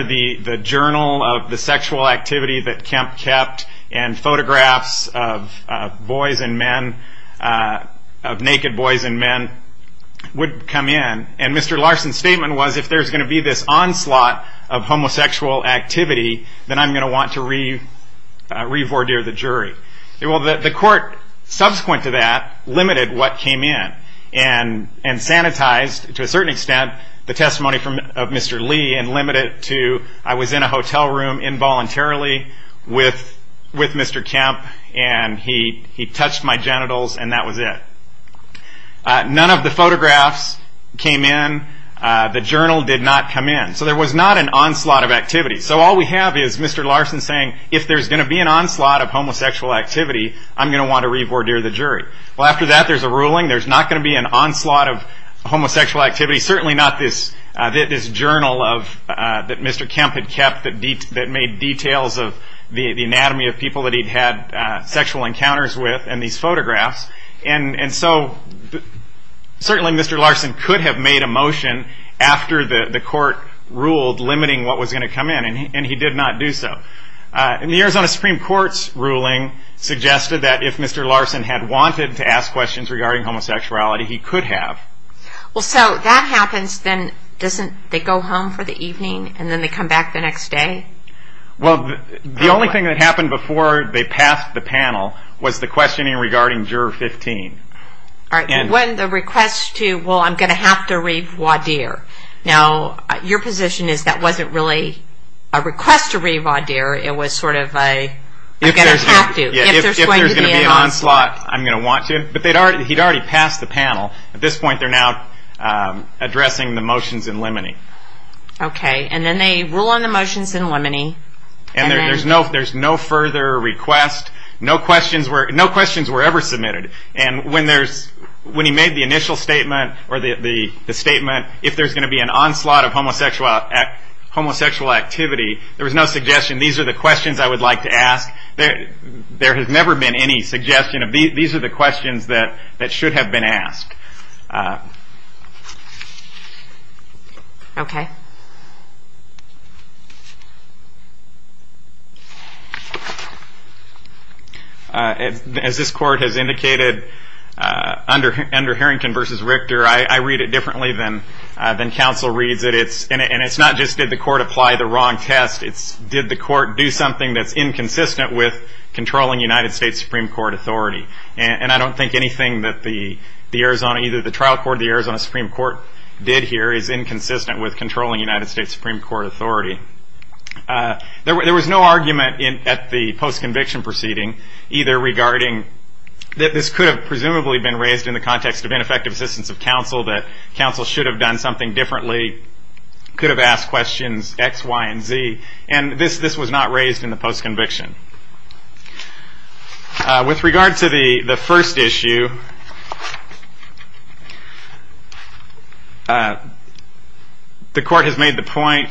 the journal of the sexual activity that Kemp kept and photographs of boys and men, of naked boys and men, would come in. And Mr. Larson's statement was, if there's going to be this onslaught of homosexual activity, then I'm going to want to revoir dire the jury. Well, the court, subsequent to that, limited what came in and sanitized, to a certain extent, the testimony of Mr. Lee and limited it to I was in a hotel room involuntarily with Mr. Kemp and he touched my genitals and that was it. None of the photographs came in. The journal did not come in. So there was not an onslaught of activity. So all we have is Mr. Larson saying, if there's going to be an onslaught of homosexual activity, I'm going to want to revoir dire the jury. Well, after that, there's a ruling there's not going to be an onslaught of homosexual activity, certainly not this journal that Mr. Kemp had kept that made details of the anatomy of people that he'd had sexual encounters with and these photographs. And so certainly Mr. Larson could have made a motion after the court ruled limiting what was going to come in and he did not do so. And the Arizona Supreme Court's ruling suggested that if Mr. Larson had wanted to ask questions regarding homosexuality, he could have. Well, so that happens, then doesn't they go home for the evening and then they come back the next day? Well, the only thing that happened before they passed the panel was the questioning regarding Juror 15. All right, so when the request to, well, I'm going to have to revoir dire. Now, your position is that wasn't really a request to revoir dire, it was sort of a, I'm going to have to. If there's going to be an onslaught, I'm going to want to. But he'd already passed the panel. At this point, they're now addressing the motions in limine. Okay, and then they rule on the motions in limine. And there's no further request. No questions were ever submitted. And when he made the initial statement or the statement, if there's going to be an onslaught of homosexual activity, there was no suggestion, these are the questions I would like to ask. There has never been any suggestion. These are the questions that should have been asked. Okay. As this court has indicated, under Harrington v. Richter, I read it differently than counsel reads it. And it's not just did the court apply the wrong test, it's did the court do something that's inconsistent with controlling United States Supreme Court authority. And I don't think anything that the Arizona, either the trial court or the Arizona Supreme Court did here, is inconsistent with controlling United States Supreme Court authority. There was no argument at the post-conviction proceeding, either regarding that this could have presumably been raised in the context of ineffective assistance of counsel, that counsel should have done something differently, that he could have asked questions X, Y, and Z. And this was not raised in the post-conviction. With regard to the first issue, the court has made the point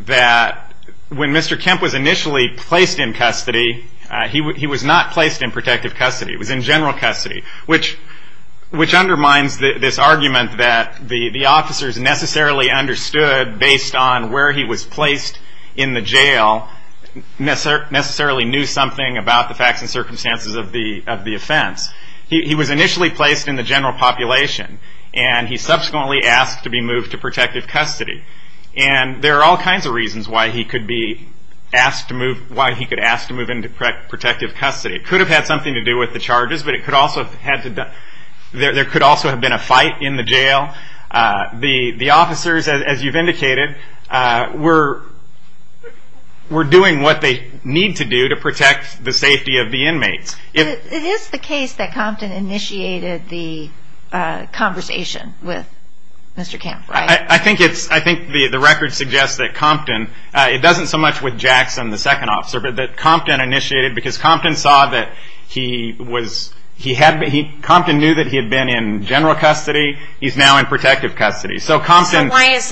that when Mr. Kemp was initially placed in custody, he was not placed in protective custody. He was in general custody, which undermines this argument that the officers necessarily understood, based on where he was placed in the jail, necessarily knew something about the facts and circumstances of the offense. He was initially placed in the general population, and he subsequently asked to be moved to protective custody. And there are all kinds of reasons why he could ask to move into protective custody. It could have had something to do with the charges, but there could also have been a fight in the jail. The officers, as you've indicated, were doing what they need to do to protect the safety of the inmates. It is the case that Compton initiated the conversation with Mr. Kemp, right? I think the record suggests that Compton, it doesn't so much with Jackson, the second officer, but that Compton initiated, because Compton saw that he was, Compton knew that he had been in general custody. He's now in protective custody. So Compton... So why does,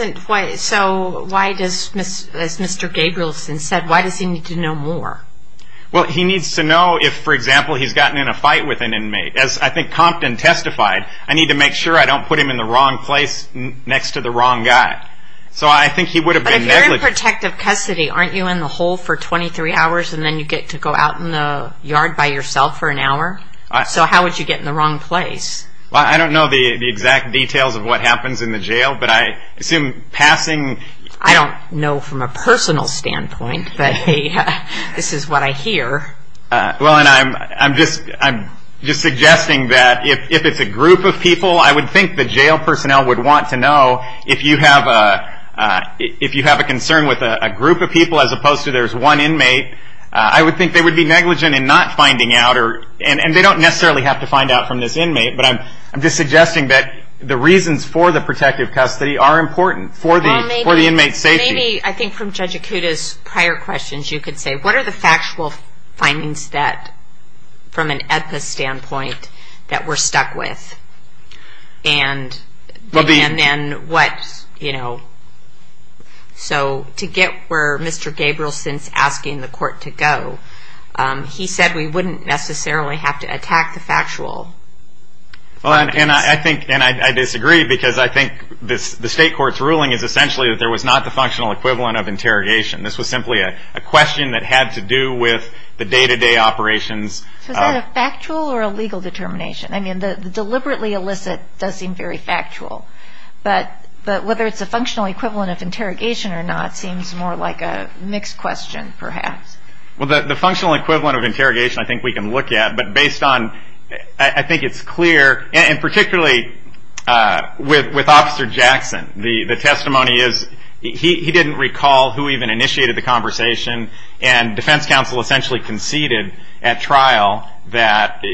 as Mr. Gabrielson said, why does he need to know more? Well, he needs to know if, for example, he's gotten in a fight with an inmate. As I think Compton testified, I need to make sure I don't put him in the wrong place next to the wrong guy. So I think he would have been negligent. If you're in protective custody, aren't you in the hole for 23 hours and then you get to go out in the yard by yourself for an hour? So how would you get in the wrong place? Well, I don't know the exact details of what happens in the jail, but I assume passing... I don't know from a personal standpoint, but this is what I hear. Well, and I'm just suggesting that if it's a group of people, I would think the jail personnel would want to know if you have a concern with a group of people as opposed to there's one inmate. I would think they would be negligent in not finding out, and they don't necessarily have to find out from this inmate, but I'm just suggesting that the reasons for the protective custody are important for the inmate's safety. Maybe I think from Judge Akuta's prior questions you could say, what are the factual findings that, from an EPSA standpoint, that we're stuck with? And then what, you know... So to get where Mr. Gabrielson's asking the court to go, he said we wouldn't necessarily have to attack the factual. Well, and I disagree because I think the state court's ruling is essentially that there was not the functional equivalent of interrogation. This was simply a question that had to do with the day-to-day operations. So is that a factual or a legal determination? I mean, the deliberately illicit does seem very factual, but whether it's the functional equivalent of interrogation or not seems more like a mixed question perhaps. Well, the functional equivalent of interrogation I think we can look at, but based on I think it's clear, and particularly with Officer Jackson, the testimony is he didn't recall who even initiated the conversation, and defense counsel essentially conceded at trial that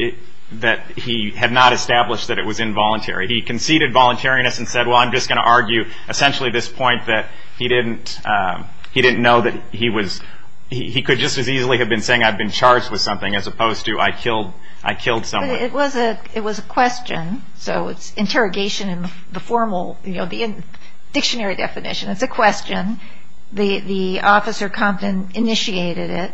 he had not established that it was involuntary. He conceded voluntariness and said, well, I'm just going to argue essentially this point, that he didn't know that he could just as easily have been saying I'd been charged with something as opposed to I killed someone. It was a question, so interrogation in the formal dictionary definition is a question. The officer confident initiated it,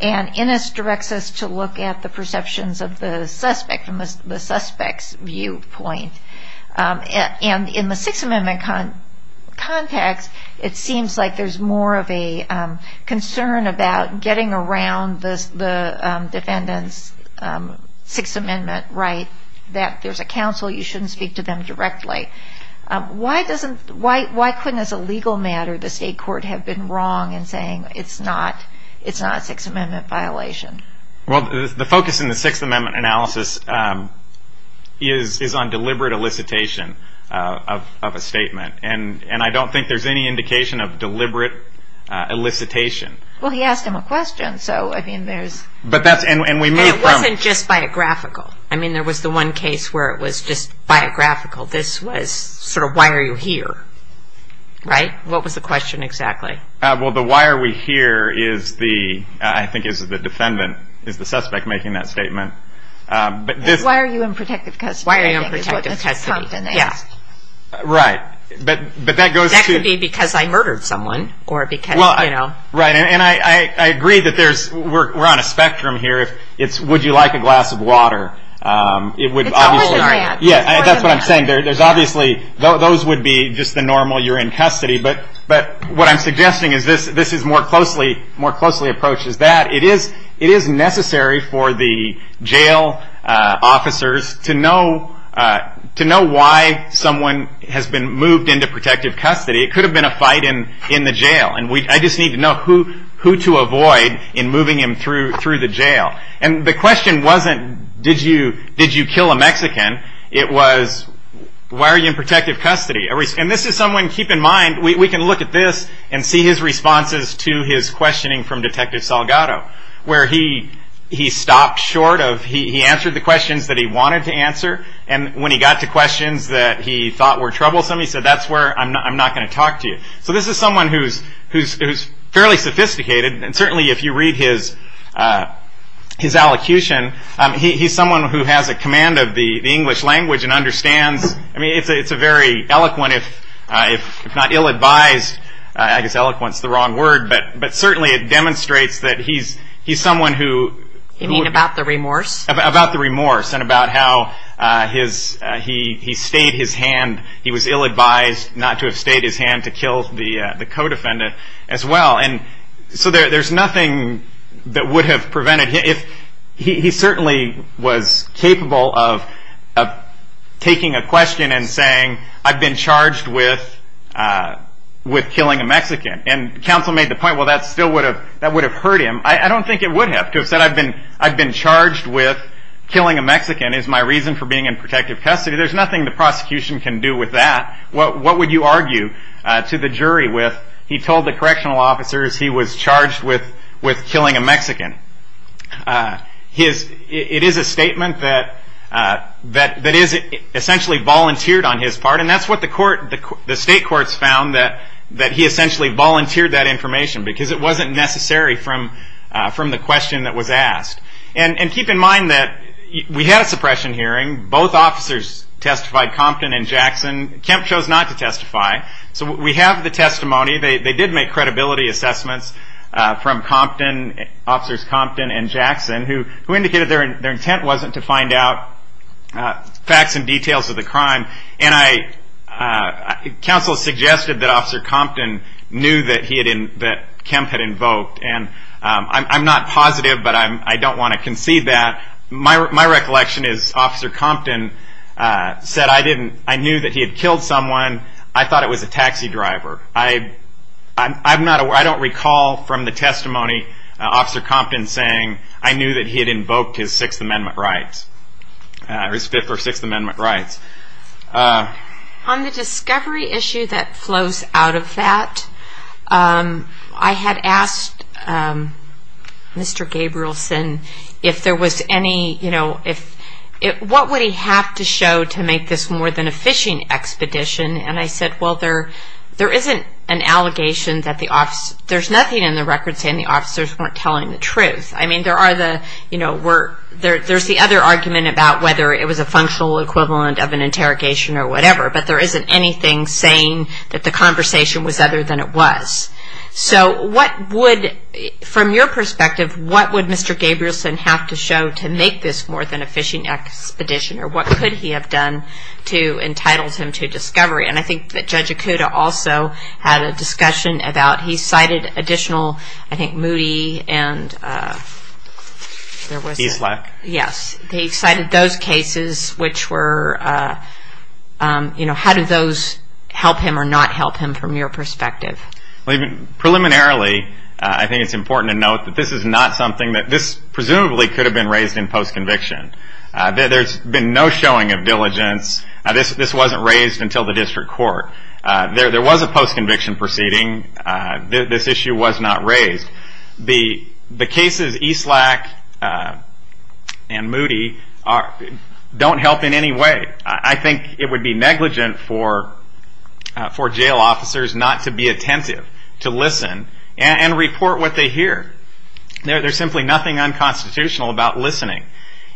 and Ennis directs us to look at the perceptions of the suspect and the suspect's viewpoint. And in the Sixth Amendment context, it seems like there's more of a concern about getting around the defendant's Sixth Amendment rights that there's a counsel, you shouldn't speak to them directly. Why couldn't as a legal matter the state court have been wrong in saying it's not a Sixth Amendment violation? Well, the focus in the Sixth Amendment analysis is on deliberate elicitation of a statement, and I don't think there's any indication of deliberate elicitation. Well, he asked them a question, so, I mean, there's... It wasn't just biographical. I mean, there was the one case where it was just biographical. This was sort of why are you here, right? What was the question exactly? Well, the why are we here is the, I think, is the defendant, is the suspect making that statement. Why are you in protected custody? Why are you in protected custody, yeah. Right, but that goes to... That could be because I murdered someone or because, you know... Right, and I agree that there's... We're on a spectrum here. It's would you like a glass of water. It would obviously... It's probably the right answer. Yeah, that's what I'm saying. There's obviously... Those would be just the normal you're in custody, but what I'm suggesting is this is more closely, more closely approached as that. It is necessary for the jail officers to know why someone has been moved into protected custody. It could have been a fight in the jail, and I just need to know who to avoid in moving him through the jail. And the question wasn't did you kill a Mexican? It was why are you in protected custody? And this is someone... Keep in mind, we can look at this and see his responses to his questioning from Detective Salgado, where he stopped short of... He answered the questions that he wanted to answer, and when he got to questions that he thought were troublesome, he said that's where I'm not going to talk to you. So this is someone who's fairly sophisticated, and certainly if you read his allocution, he's someone who has a command of the English language and understands... I mean, it's a very eloquent, if not ill-advised, I guess eloquent's the wrong word, but certainly it demonstrates that he's someone who... You mean about the remorse? About the remorse and about how he stayed his hand. He was ill-advised not to have stayed his hand to kill the co-defendant as well. And so there's nothing that would have prevented him. He certainly was capable of taking a question and saying, I've been charged with killing a Mexican. And counsel made the point, well, that still would have hurt him. I don't think it would have. To have said, I've been charged with killing a Mexican is my reason for being in protected custody. There's nothing the prosecution can do with that. What would you argue to the jury with? He told the correctional officers he was charged with killing a Mexican. It is a statement that is essentially volunteered on his part, and that's what the state courts found, that he essentially volunteered that information because it wasn't necessary from the question that was asked. And keep in mind that we had a suppression hearing. Both officers testified, Compton and Jackson. Kemp chose not to testify. So we have the testimony. They did make credibility assessments from officers Compton and Jackson, who indicated their intent wasn't to find out facts and details of the crime. And counsel suggested that Officer Compton knew that Kemp had invoked. And I'm not positive, but I don't want to concede that. My recollection is Officer Compton said, I knew that he had killed someone. I thought it was a taxi driver. I don't recall from the testimony Officer Compton saying, I knew that he had invoked his Fifth or Sixth Amendment rights. On the discovery issue that flows out of that, I had asked Mr. Gabrielson if there was any, you know, what would he have to show to make this more than a phishing expedition? And I said, well, there isn't an allegation that the officer, there's nothing in the records saying the officer's not telling the truth. I mean, there are the, you know, there's the other argument about whether it was a functional equivalent of an interrogation or whatever, but there isn't anything saying that the conversation was other than it was. So what would, from your perspective, what would Mr. Gabrielson have to show to make this more than a phishing expedition? Or what could he have done to entitle him to discovery? And I think that Judge Acuda also had a discussion about, he cited additional, I think, Moody and there was- He's left. Yes. He cited those cases which were, you know, how did those help him or not help him from your perspective? Preliminarily, I think it's important to note that this is not something that, this presumably could have been raised in post-conviction. There's been no showing of diligence. This wasn't raised until the district court. There was a post-conviction proceeding. This issue was not raised. The cases Eastlack and Moody don't help in any way. I think it would be negligent for jail officers not to be attentive, to listen, and report what they hear. There's simply nothing unconstitutional about listening.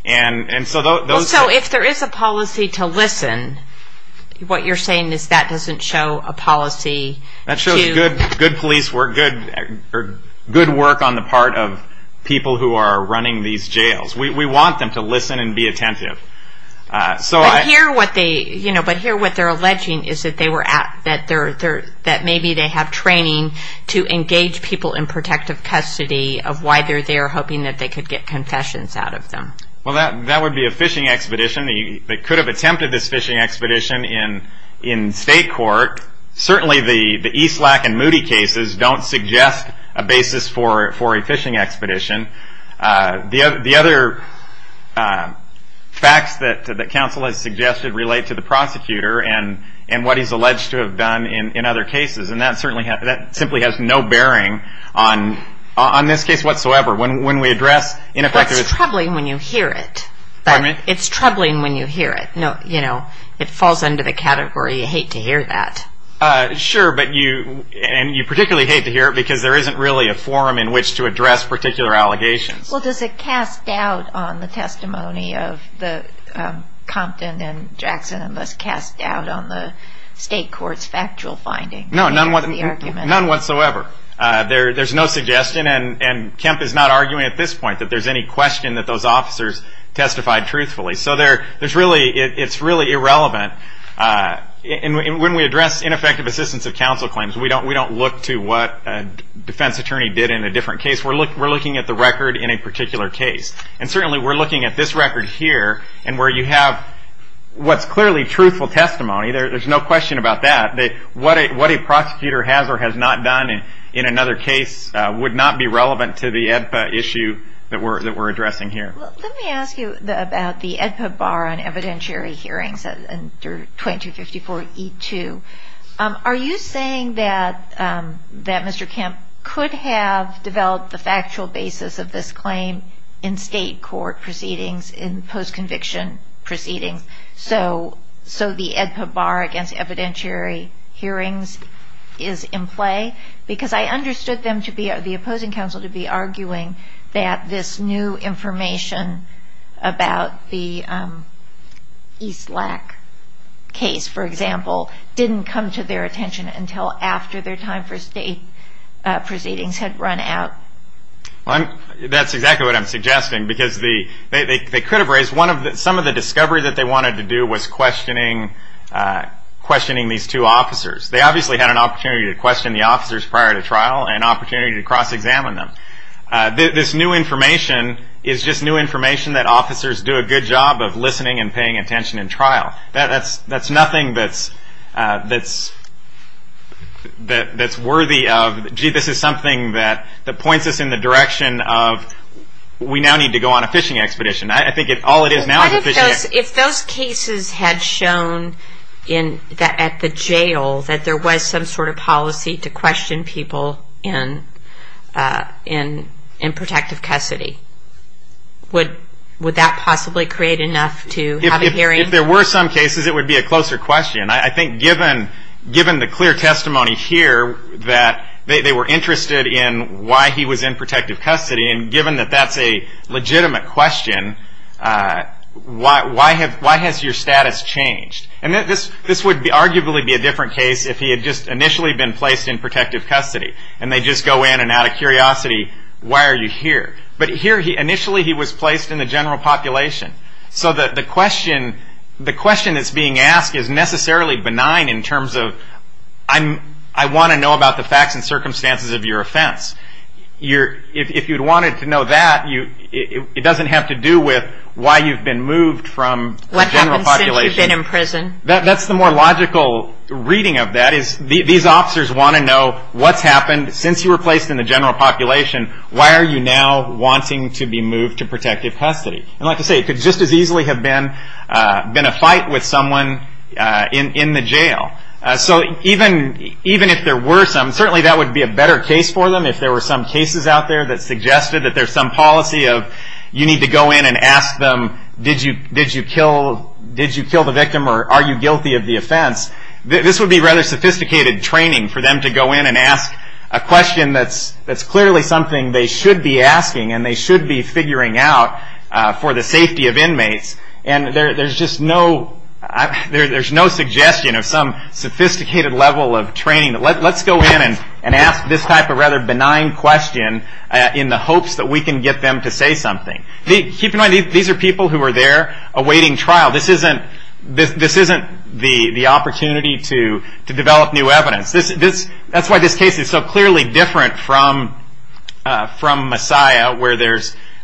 And so those- And so if there is a policy to listen, what you're saying is that doesn't show a policy to- That shows good police work, good work on the part of people who are running these jails. We want them to listen and be attentive. But here what they're alleging is that they were at, that maybe they have training to engage people in protective custody of why they're there, hoping that they could get confessions out of them. Well, that would be a fishing expedition. They could have attempted this fishing expedition in state court. Certainly the Eastlack and Moody cases don't suggest a basis for a fishing expedition. The other facts that counsel has suggested relate to the prosecutor and what he's alleged to have done in other cases, and that simply has no bearing on this case whatsoever. When we address ineffective- It's troubling when you hear it. Pardon me? It's troubling when you hear it. No, you know, it falls under the category you hate to hear that. Sure, but you, and you particularly hate to hear it because there isn't really a forum in which to address particular allegations. Well, does it cast doubt on the testimony of the Compton and Jackson and this cast doubt on the state court's factual finding? No, none whatsoever. There's no suggestion, and Kemp is not arguing at this point that there's any question that those officers testified truthfully. So it's really irrelevant. When we address ineffective assistance of counsel claims, we don't look to what a defense attorney did in a different case. We're looking at the record in a particular case, and certainly we're looking at this record here, and where you have what's clearly truthful testimony. There's no question about that, that what a prosecutor has or has not done in another case would not be relevant to the AEDPA issue that we're addressing here. Let me ask you about the AEDPA bar on evidentiary hearings under 2254E2. Are you saying that Mr. Kemp could have developed the factual basis of this claim in state court proceedings, in post-conviction proceedings, so the AEDPA bar against evidentiary hearings is in play? Because I understood the opposing counsel to be arguing that this new information about the East Lack case, for example, didn't come to their attention until after their time for state proceedings had run out. That's exactly what I'm suggesting, because they could have raised some of the discovery that they wanted to do was questioning these two officers. They obviously had an opportunity to question the officers prior to trial and an opportunity to cross-examine them. This new information is just new information that officers do a good job of listening and paying attention in trial. That's nothing that's worthy of, gee, I think this is something that points us in the direction of we now need to go on a fishing expedition. I think all it is now is a fishing expedition. If those cases had shown at the jail that there was some sort of policy to question people in protective custody, would that possibly create enough to have a hearing? If there were some cases, it would be a closer question. I think given the clear testimony here that they were interested in why he was in protective custody and given that that's a legitimate question, why has your status changed? This would arguably be a different case if he had just initially been placed in protective custody and they just go in and out of curiosity, why are you here? But initially he was placed in the general population. So the question that's being asked is necessarily benign in terms of I want to know about the facts and circumstances of your offense. If you wanted to know that, it doesn't have to do with why you've been moved from the general population. What happens if you've been in prison? That's the more logical reading of that. These officers want to know what's happened since you were placed in the general population. Why are you now wanting to be moved to protective custody? Like I say, it could just as easily have been a fight with someone in the jail. So even if there were some, certainly that would be a better case for them. If there were some cases out there that suggested that there's some policy of you need to go in and ask them did you kill the victim or are you guilty of the offense, this would be rather sophisticated training for them to go in and ask a question that's clearly something they should be asking and they should be figuring out for the safety of inmates. And there's just no suggestion of some sophisticated level of training. Let's go in and ask this type of rather benign question in the hopes that we can get them to say something. Keep in mind these are people who are there awaiting trial. This isn't the opportunity to develop new evidence. That's why this case is so clearly different from Messiah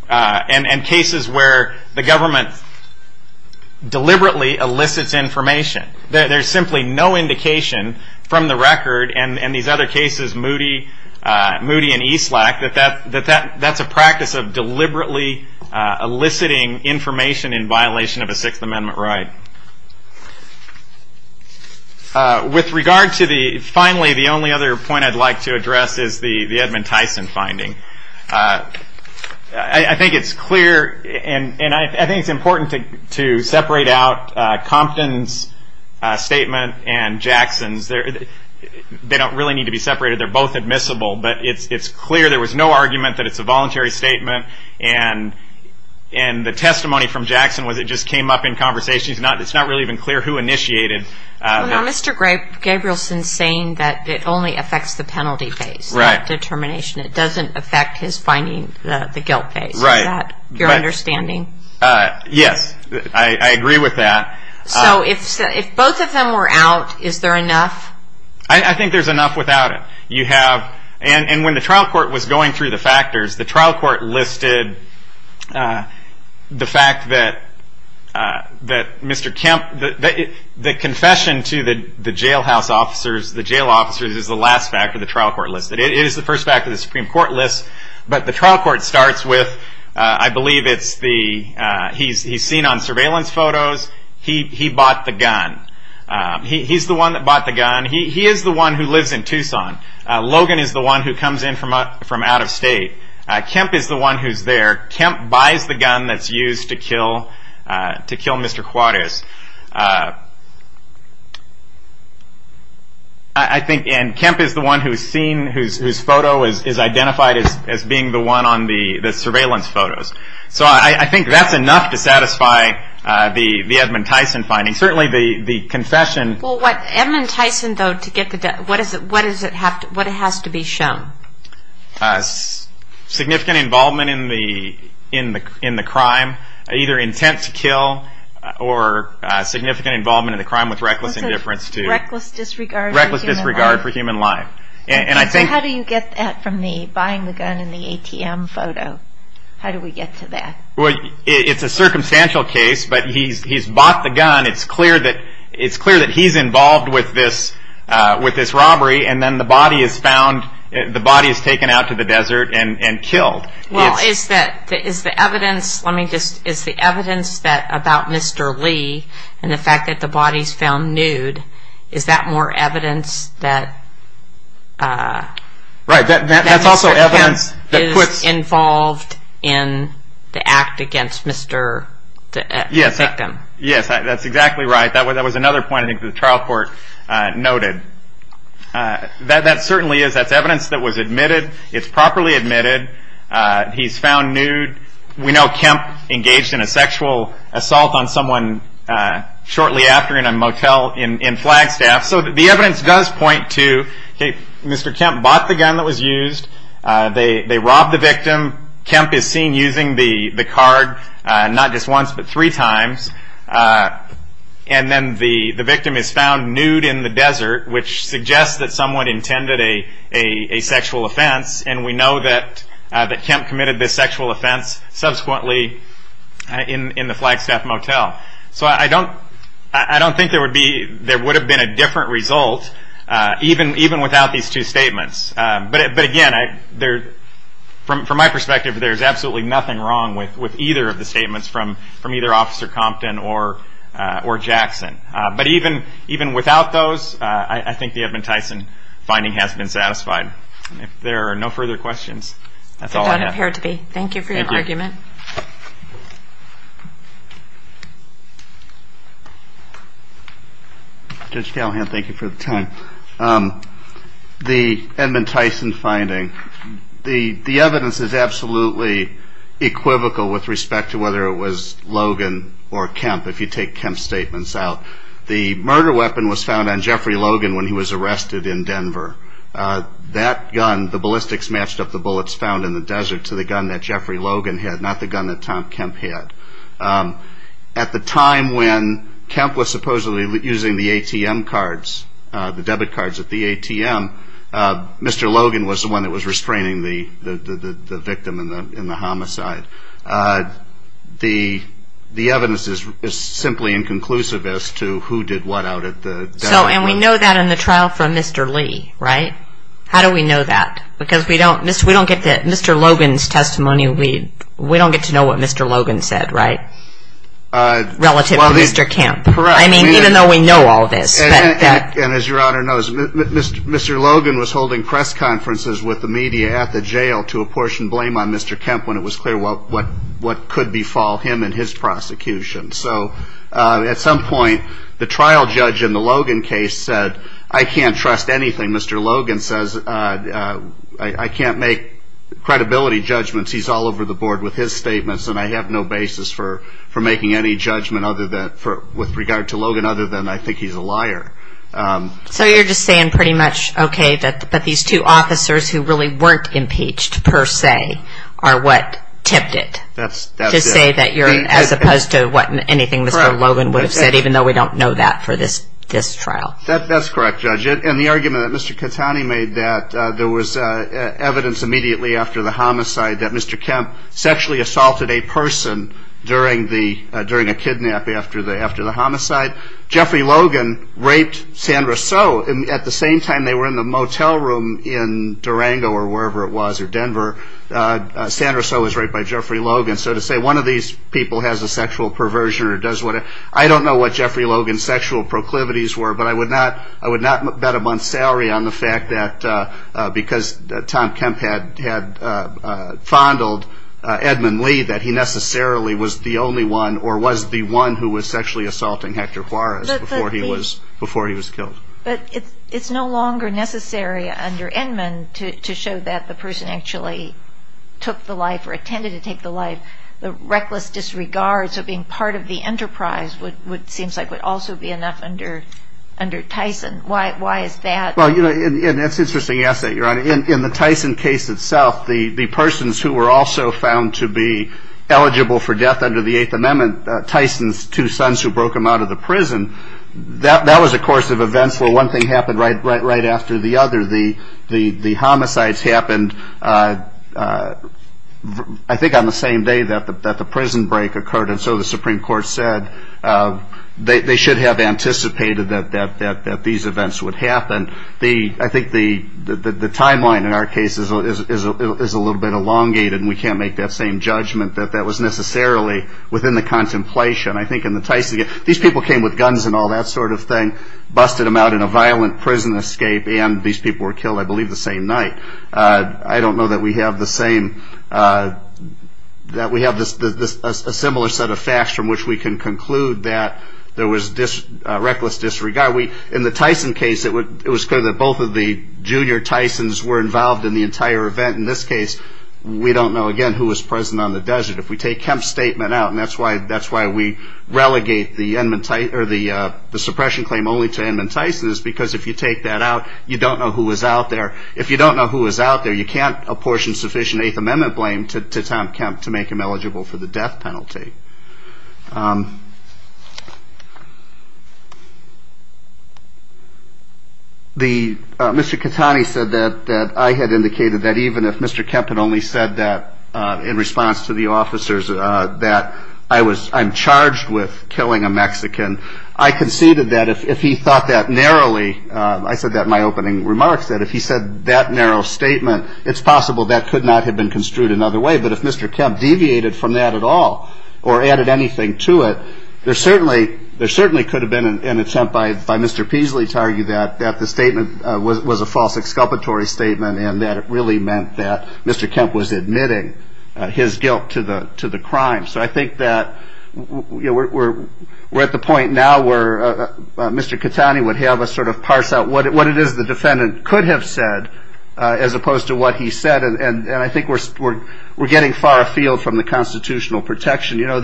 and cases where the government deliberately elicits information. There's simply no indication from the record and these other cases, Moody and Eastlack, that that's a practice of deliberately eliciting information in violation of a Sixth Amendment right. With regard to the, finally, the only other point I'd like to address is the Edmund Tyson finding. I think it's clear and I think it's important to separate out Compton's statement and Jackson's. They don't really need to be separated. They're both admissible, but it's clear there was no argument that it's a voluntary statement and the testimony from Jackson was it just came up in conversations. It's not really even clear who initiated. Well, now, Mr. Gabrielson is saying that it only affects the penalty phase. Right. The determination. It doesn't affect his finding, the guilt phase. Right. Is that your understanding? Yes, I agree with that. So if both of them were out, is there enough? I think there's enough without it. And when the trial court was going through the factors, the trial court listed the fact that Mr. Kemp, the confession to the jailhouse officers, the jail officers is the last factor the trial court listed. It is the first factor the Supreme Court lists, but the trial court starts with, I believe it's the, he's seen on surveillance photos, he bought the gun. He's the one that bought the gun. He is the one who lives in Tucson. Logan is the one who comes in from out of state. Kemp is the one who's there. Kemp buys the gun that's used to kill Mr. Juarez. And Kemp is the one whose photo is identified as being the one on the surveillance photos. So I think that's enough to satisfy the Edmund Tyson finding. I mean, certainly the confession. Well, Edmund Tyson, though, what has to be shown? Significant involvement in the crime, either intent to kill or significant involvement in the crime with reckless indifference. Reckless disregard for human life. Reckless disregard for human life. How do you get that from the buying the gun in the ATM photo? How do we get to that? Well, it's a circumstantial case, but he's bought the gun. It's clear that he's involved with this robbery, and then the body is found, the body is taken out to the desert and killed. Well, is the evidence, let me just, is the evidence about Mr. Lee and the fact that the body is found nude, is that more evidence that Mr. Kemp is involved in the act against the victim? Yes, that's exactly right. That was another point I think the trial court noted. That certainly is evidence that was admitted. It's properly admitted. He's found nude. We know Kemp engaged in a sexual assault on someone shortly after in a motel in Flagstaff, so the evidence does point to Mr. Kemp bought the gun that was used. They robbed the victim. Kemp is seen using the card not just once but three times, and then the victim is found nude in the desert, which suggests that someone intended a sexual offense, and we know that Kemp committed this sexual offense subsequently in the Flagstaff motel. So I don't think there would have been a different result even without these two statements. But again, from my perspective, there's absolutely nothing wrong with either of the statements from either Officer Compton or Jackson. But even without those, I think the Edmund Tyson finding has been satisfied. If there are no further questions, that's all I have. Thank you for your argument. Judge Callahan, thank you for the time. The Edmund Tyson finding, the evidence is absolutely equivocal with respect to whether it was Logan or Kemp, if you take Kemp's statements out. The murder weapon was found on Jeffrey Logan when he was arrested in Denver. That gun, the ballistics matched up the bullets found in the desert to the gun that Jeffrey Logan had, not the gun that Tom Kemp had. At the time when Kemp was supposedly using the ATM cards, the debit cards at the ATM, Mr. Logan was the one that was restraining the victim in the homicide. The evidence is simply inconclusive as to who did what out of the debt. And we know that in the trial from Mr. Lee, right? How do we know that? Because we don't get that Mr. Logan's testimony, we don't get to know what Mr. Logan said, right? Relative to Mr. Kemp. Correct. I mean, even though we know all this. And as Your Honor knows, Mr. Logan was holding press conferences with the media at the jail to apportion blame on Mr. Kemp when it was clear what could befall him and his prosecution. So at some point, the trial judge in the Logan case said, I can't trust anything Mr. Logan says, I can't make credibility judgments, he's all over the board with his statements, and I have no basis for making any judgment with regard to Logan other than I think he's a liar. So you're just saying pretty much, okay, but these two officers who really weren't impeached, per se, are what tipped it. That's it. To say that you're, as opposed to what anything Mr. Logan would have said, even though we don't know that for this trial. That's correct, Judge. And the argument that Mr. Catani made that there was evidence immediately after the homicide that Mr. Kemp sexually assaulted a person during a kidnap after the homicide. Jeffrey Logan raped Sandra So. At the same time they were in the motel room in Durango or wherever it was, or Denver. Sandra So was raped by Jeffrey Logan. So to say one of these people has a sexual perversion or does whatever. I don't know what Jeffrey Logan's sexual proclivities were, but I would not bet a month's salary on the fact that because Tom Kemp had fondled Edmund Lee, that he necessarily was the only one or was the one who was sexually assaulting Hector Juarez before he was killed. But it's no longer necessary under Edmund to show that the person actually took the life or intended to take the life. The reckless disregard of being part of the enterprise would also be enough under Tyson. Why is that? Well, it's an interesting essay, Your Honor. In the Tyson case itself, the persons who were also found to be eligible for death under the Eighth Amendment, Tyson's two sons who broke him out of the prison, that was a course of events where one thing happened right after the other. The homicides happened I think on the same day that the prison break occurred, and so the Supreme Court said they should have anticipated that these events would happen. I think the timeline in our case is a little bit elongated, and we can't make that same judgment that that was necessarily within the contemplation. I think in the Tyson case, these people came with guns and all that sort of thing, busted him out in a violent prison escape, and these people were killed, I believe, the same night. I don't know that we have a similar set of facts from which we can conclude that there was reckless disregard. In the Tyson case, it was clear that both of the junior Tysons were involved in the entire event. In this case, we don't know, again, who was present on the desert. If we take Kemp's statement out, and that's why we relegate the suppression claim only to Edmund Tyson, is because if you take that out, you don't know who was out there. If you don't know who was out there, you can't apportion sufficient Eighth Amendment blame to Tom Kemp to make him eligible for the death penalty. Mr. Katani said that I had indicated that even if Mr. Kemp had only said that in response to the officers that I'm charged with killing a Mexican, I conceded that if he thought that narrowly, I said that in my opening remarks, that if he said that narrow statement, it's possible that could not have been construed another way. But if Mr. Kemp deviated from that at all or added anything to it, there certainly could have been an attempt by Mr. Peasley to argue that the statement was a false exculpatory statement and that it really meant that Mr. Kemp was admitting his guilt to the crime. So I think that we're at the point now where Mr. Katani would have us sort of parse out what it is the defendant could have said as opposed to what he said. And I think we're getting far afield from the constitutional protection. You know,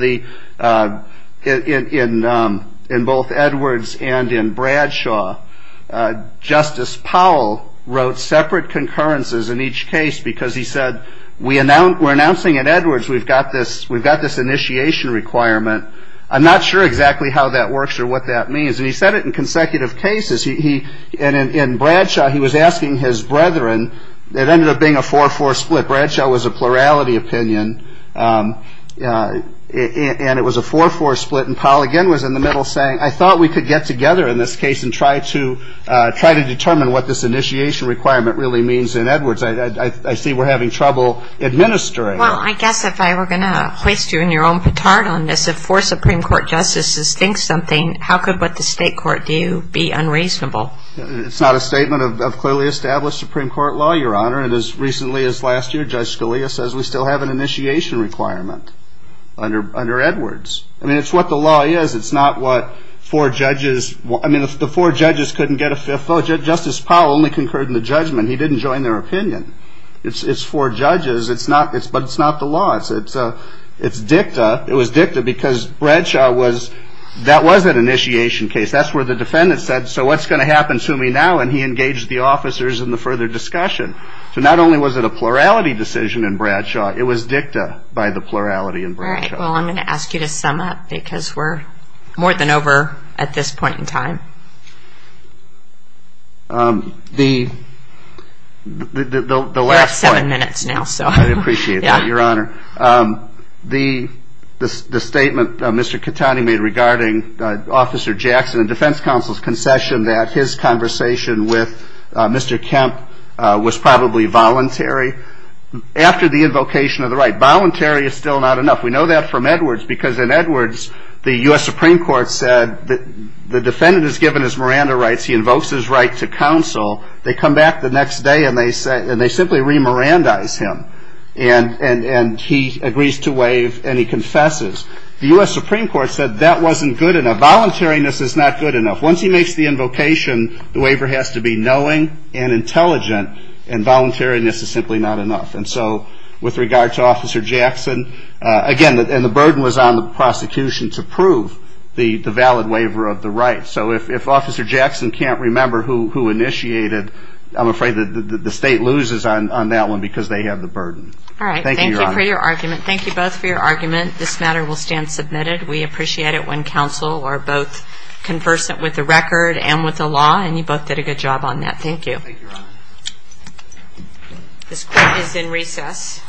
in both Edwards and in Bradshaw, Justice Powell wrote separate concurrences in each case because he said, we're announcing in Edwards we've got this initiation requirement. I'm not sure exactly how that works or what that means. And he said it in consecutive cases. And in Bradshaw, he was asking his brethren. It ended up being a 4-4 split. Bradshaw was a plurality opinion, and it was a 4-4 split. And Powell again was in the middle saying, I thought we could get together in this case and try to determine what this initiation requirement really means in Edwards. I see we're having trouble administering it. Well, I guess if I were going to place you in your own patard on this, If four Supreme Court justices think something, how could what the state court do be unreasonable? It's not a statement of clearly established Supreme Court law, Your Honor. And as recently as last year, Judge Scalia says we still have an initiation requirement under Edwards. I mean, it's what the law is. It's not what four judges – I mean, if the four judges couldn't get a fifth vote, Justice Powell only concurred in the judgment. He didn't join their opinion. It's four judges, but it's not the law. It's dicta. It was dicta because Bradshaw was – that was an initiation case. That's where the defendant said, so what's going to happen to me now? And he engaged the officers in the further discussion. So not only was it a plurality decision in Bradshaw, it was dicta by the plurality in Bradshaw. All right. Well, I'm going to ask you to sum up because we're more than over at this point in time. The last point – We're at seven minutes now, so – I appreciate that, Your Honor. The statement Mr. Catani made regarding Officer Jackson and defense counsel's concession that his conversation with Mr. Kemp was probably voluntary after the invocation of the right. Voluntary is still not enough. We know that from Edwards because in Edwards, the U.S. Supreme Court said the defendant is given his Miranda rights. He invokes his right to counsel. They come back the next day, and they simply re-Mirandaize him. And he agrees to waive, and he confesses. The U.S. Supreme Court said that wasn't good enough. Voluntariness is not good enough. Once he makes the invocation, the waiver has to be knowing and intelligent, and voluntariness is simply not enough. And so with regard to Officer Jackson, again, the burden was on the prosecution to prove the valid waiver of the rights. So if Officer Jackson can't remember who initiated, I'm afraid the state loses on that one because they have the burden. All right. Thank you, Your Honor. Thank you for your argument. Thank you both for your argument. This matter will stand submitted. We appreciate it when counsel are both conversant with the record and with the law, and you both did a good job on that. Thank you. Thank you, Your Honor. This question is in recess.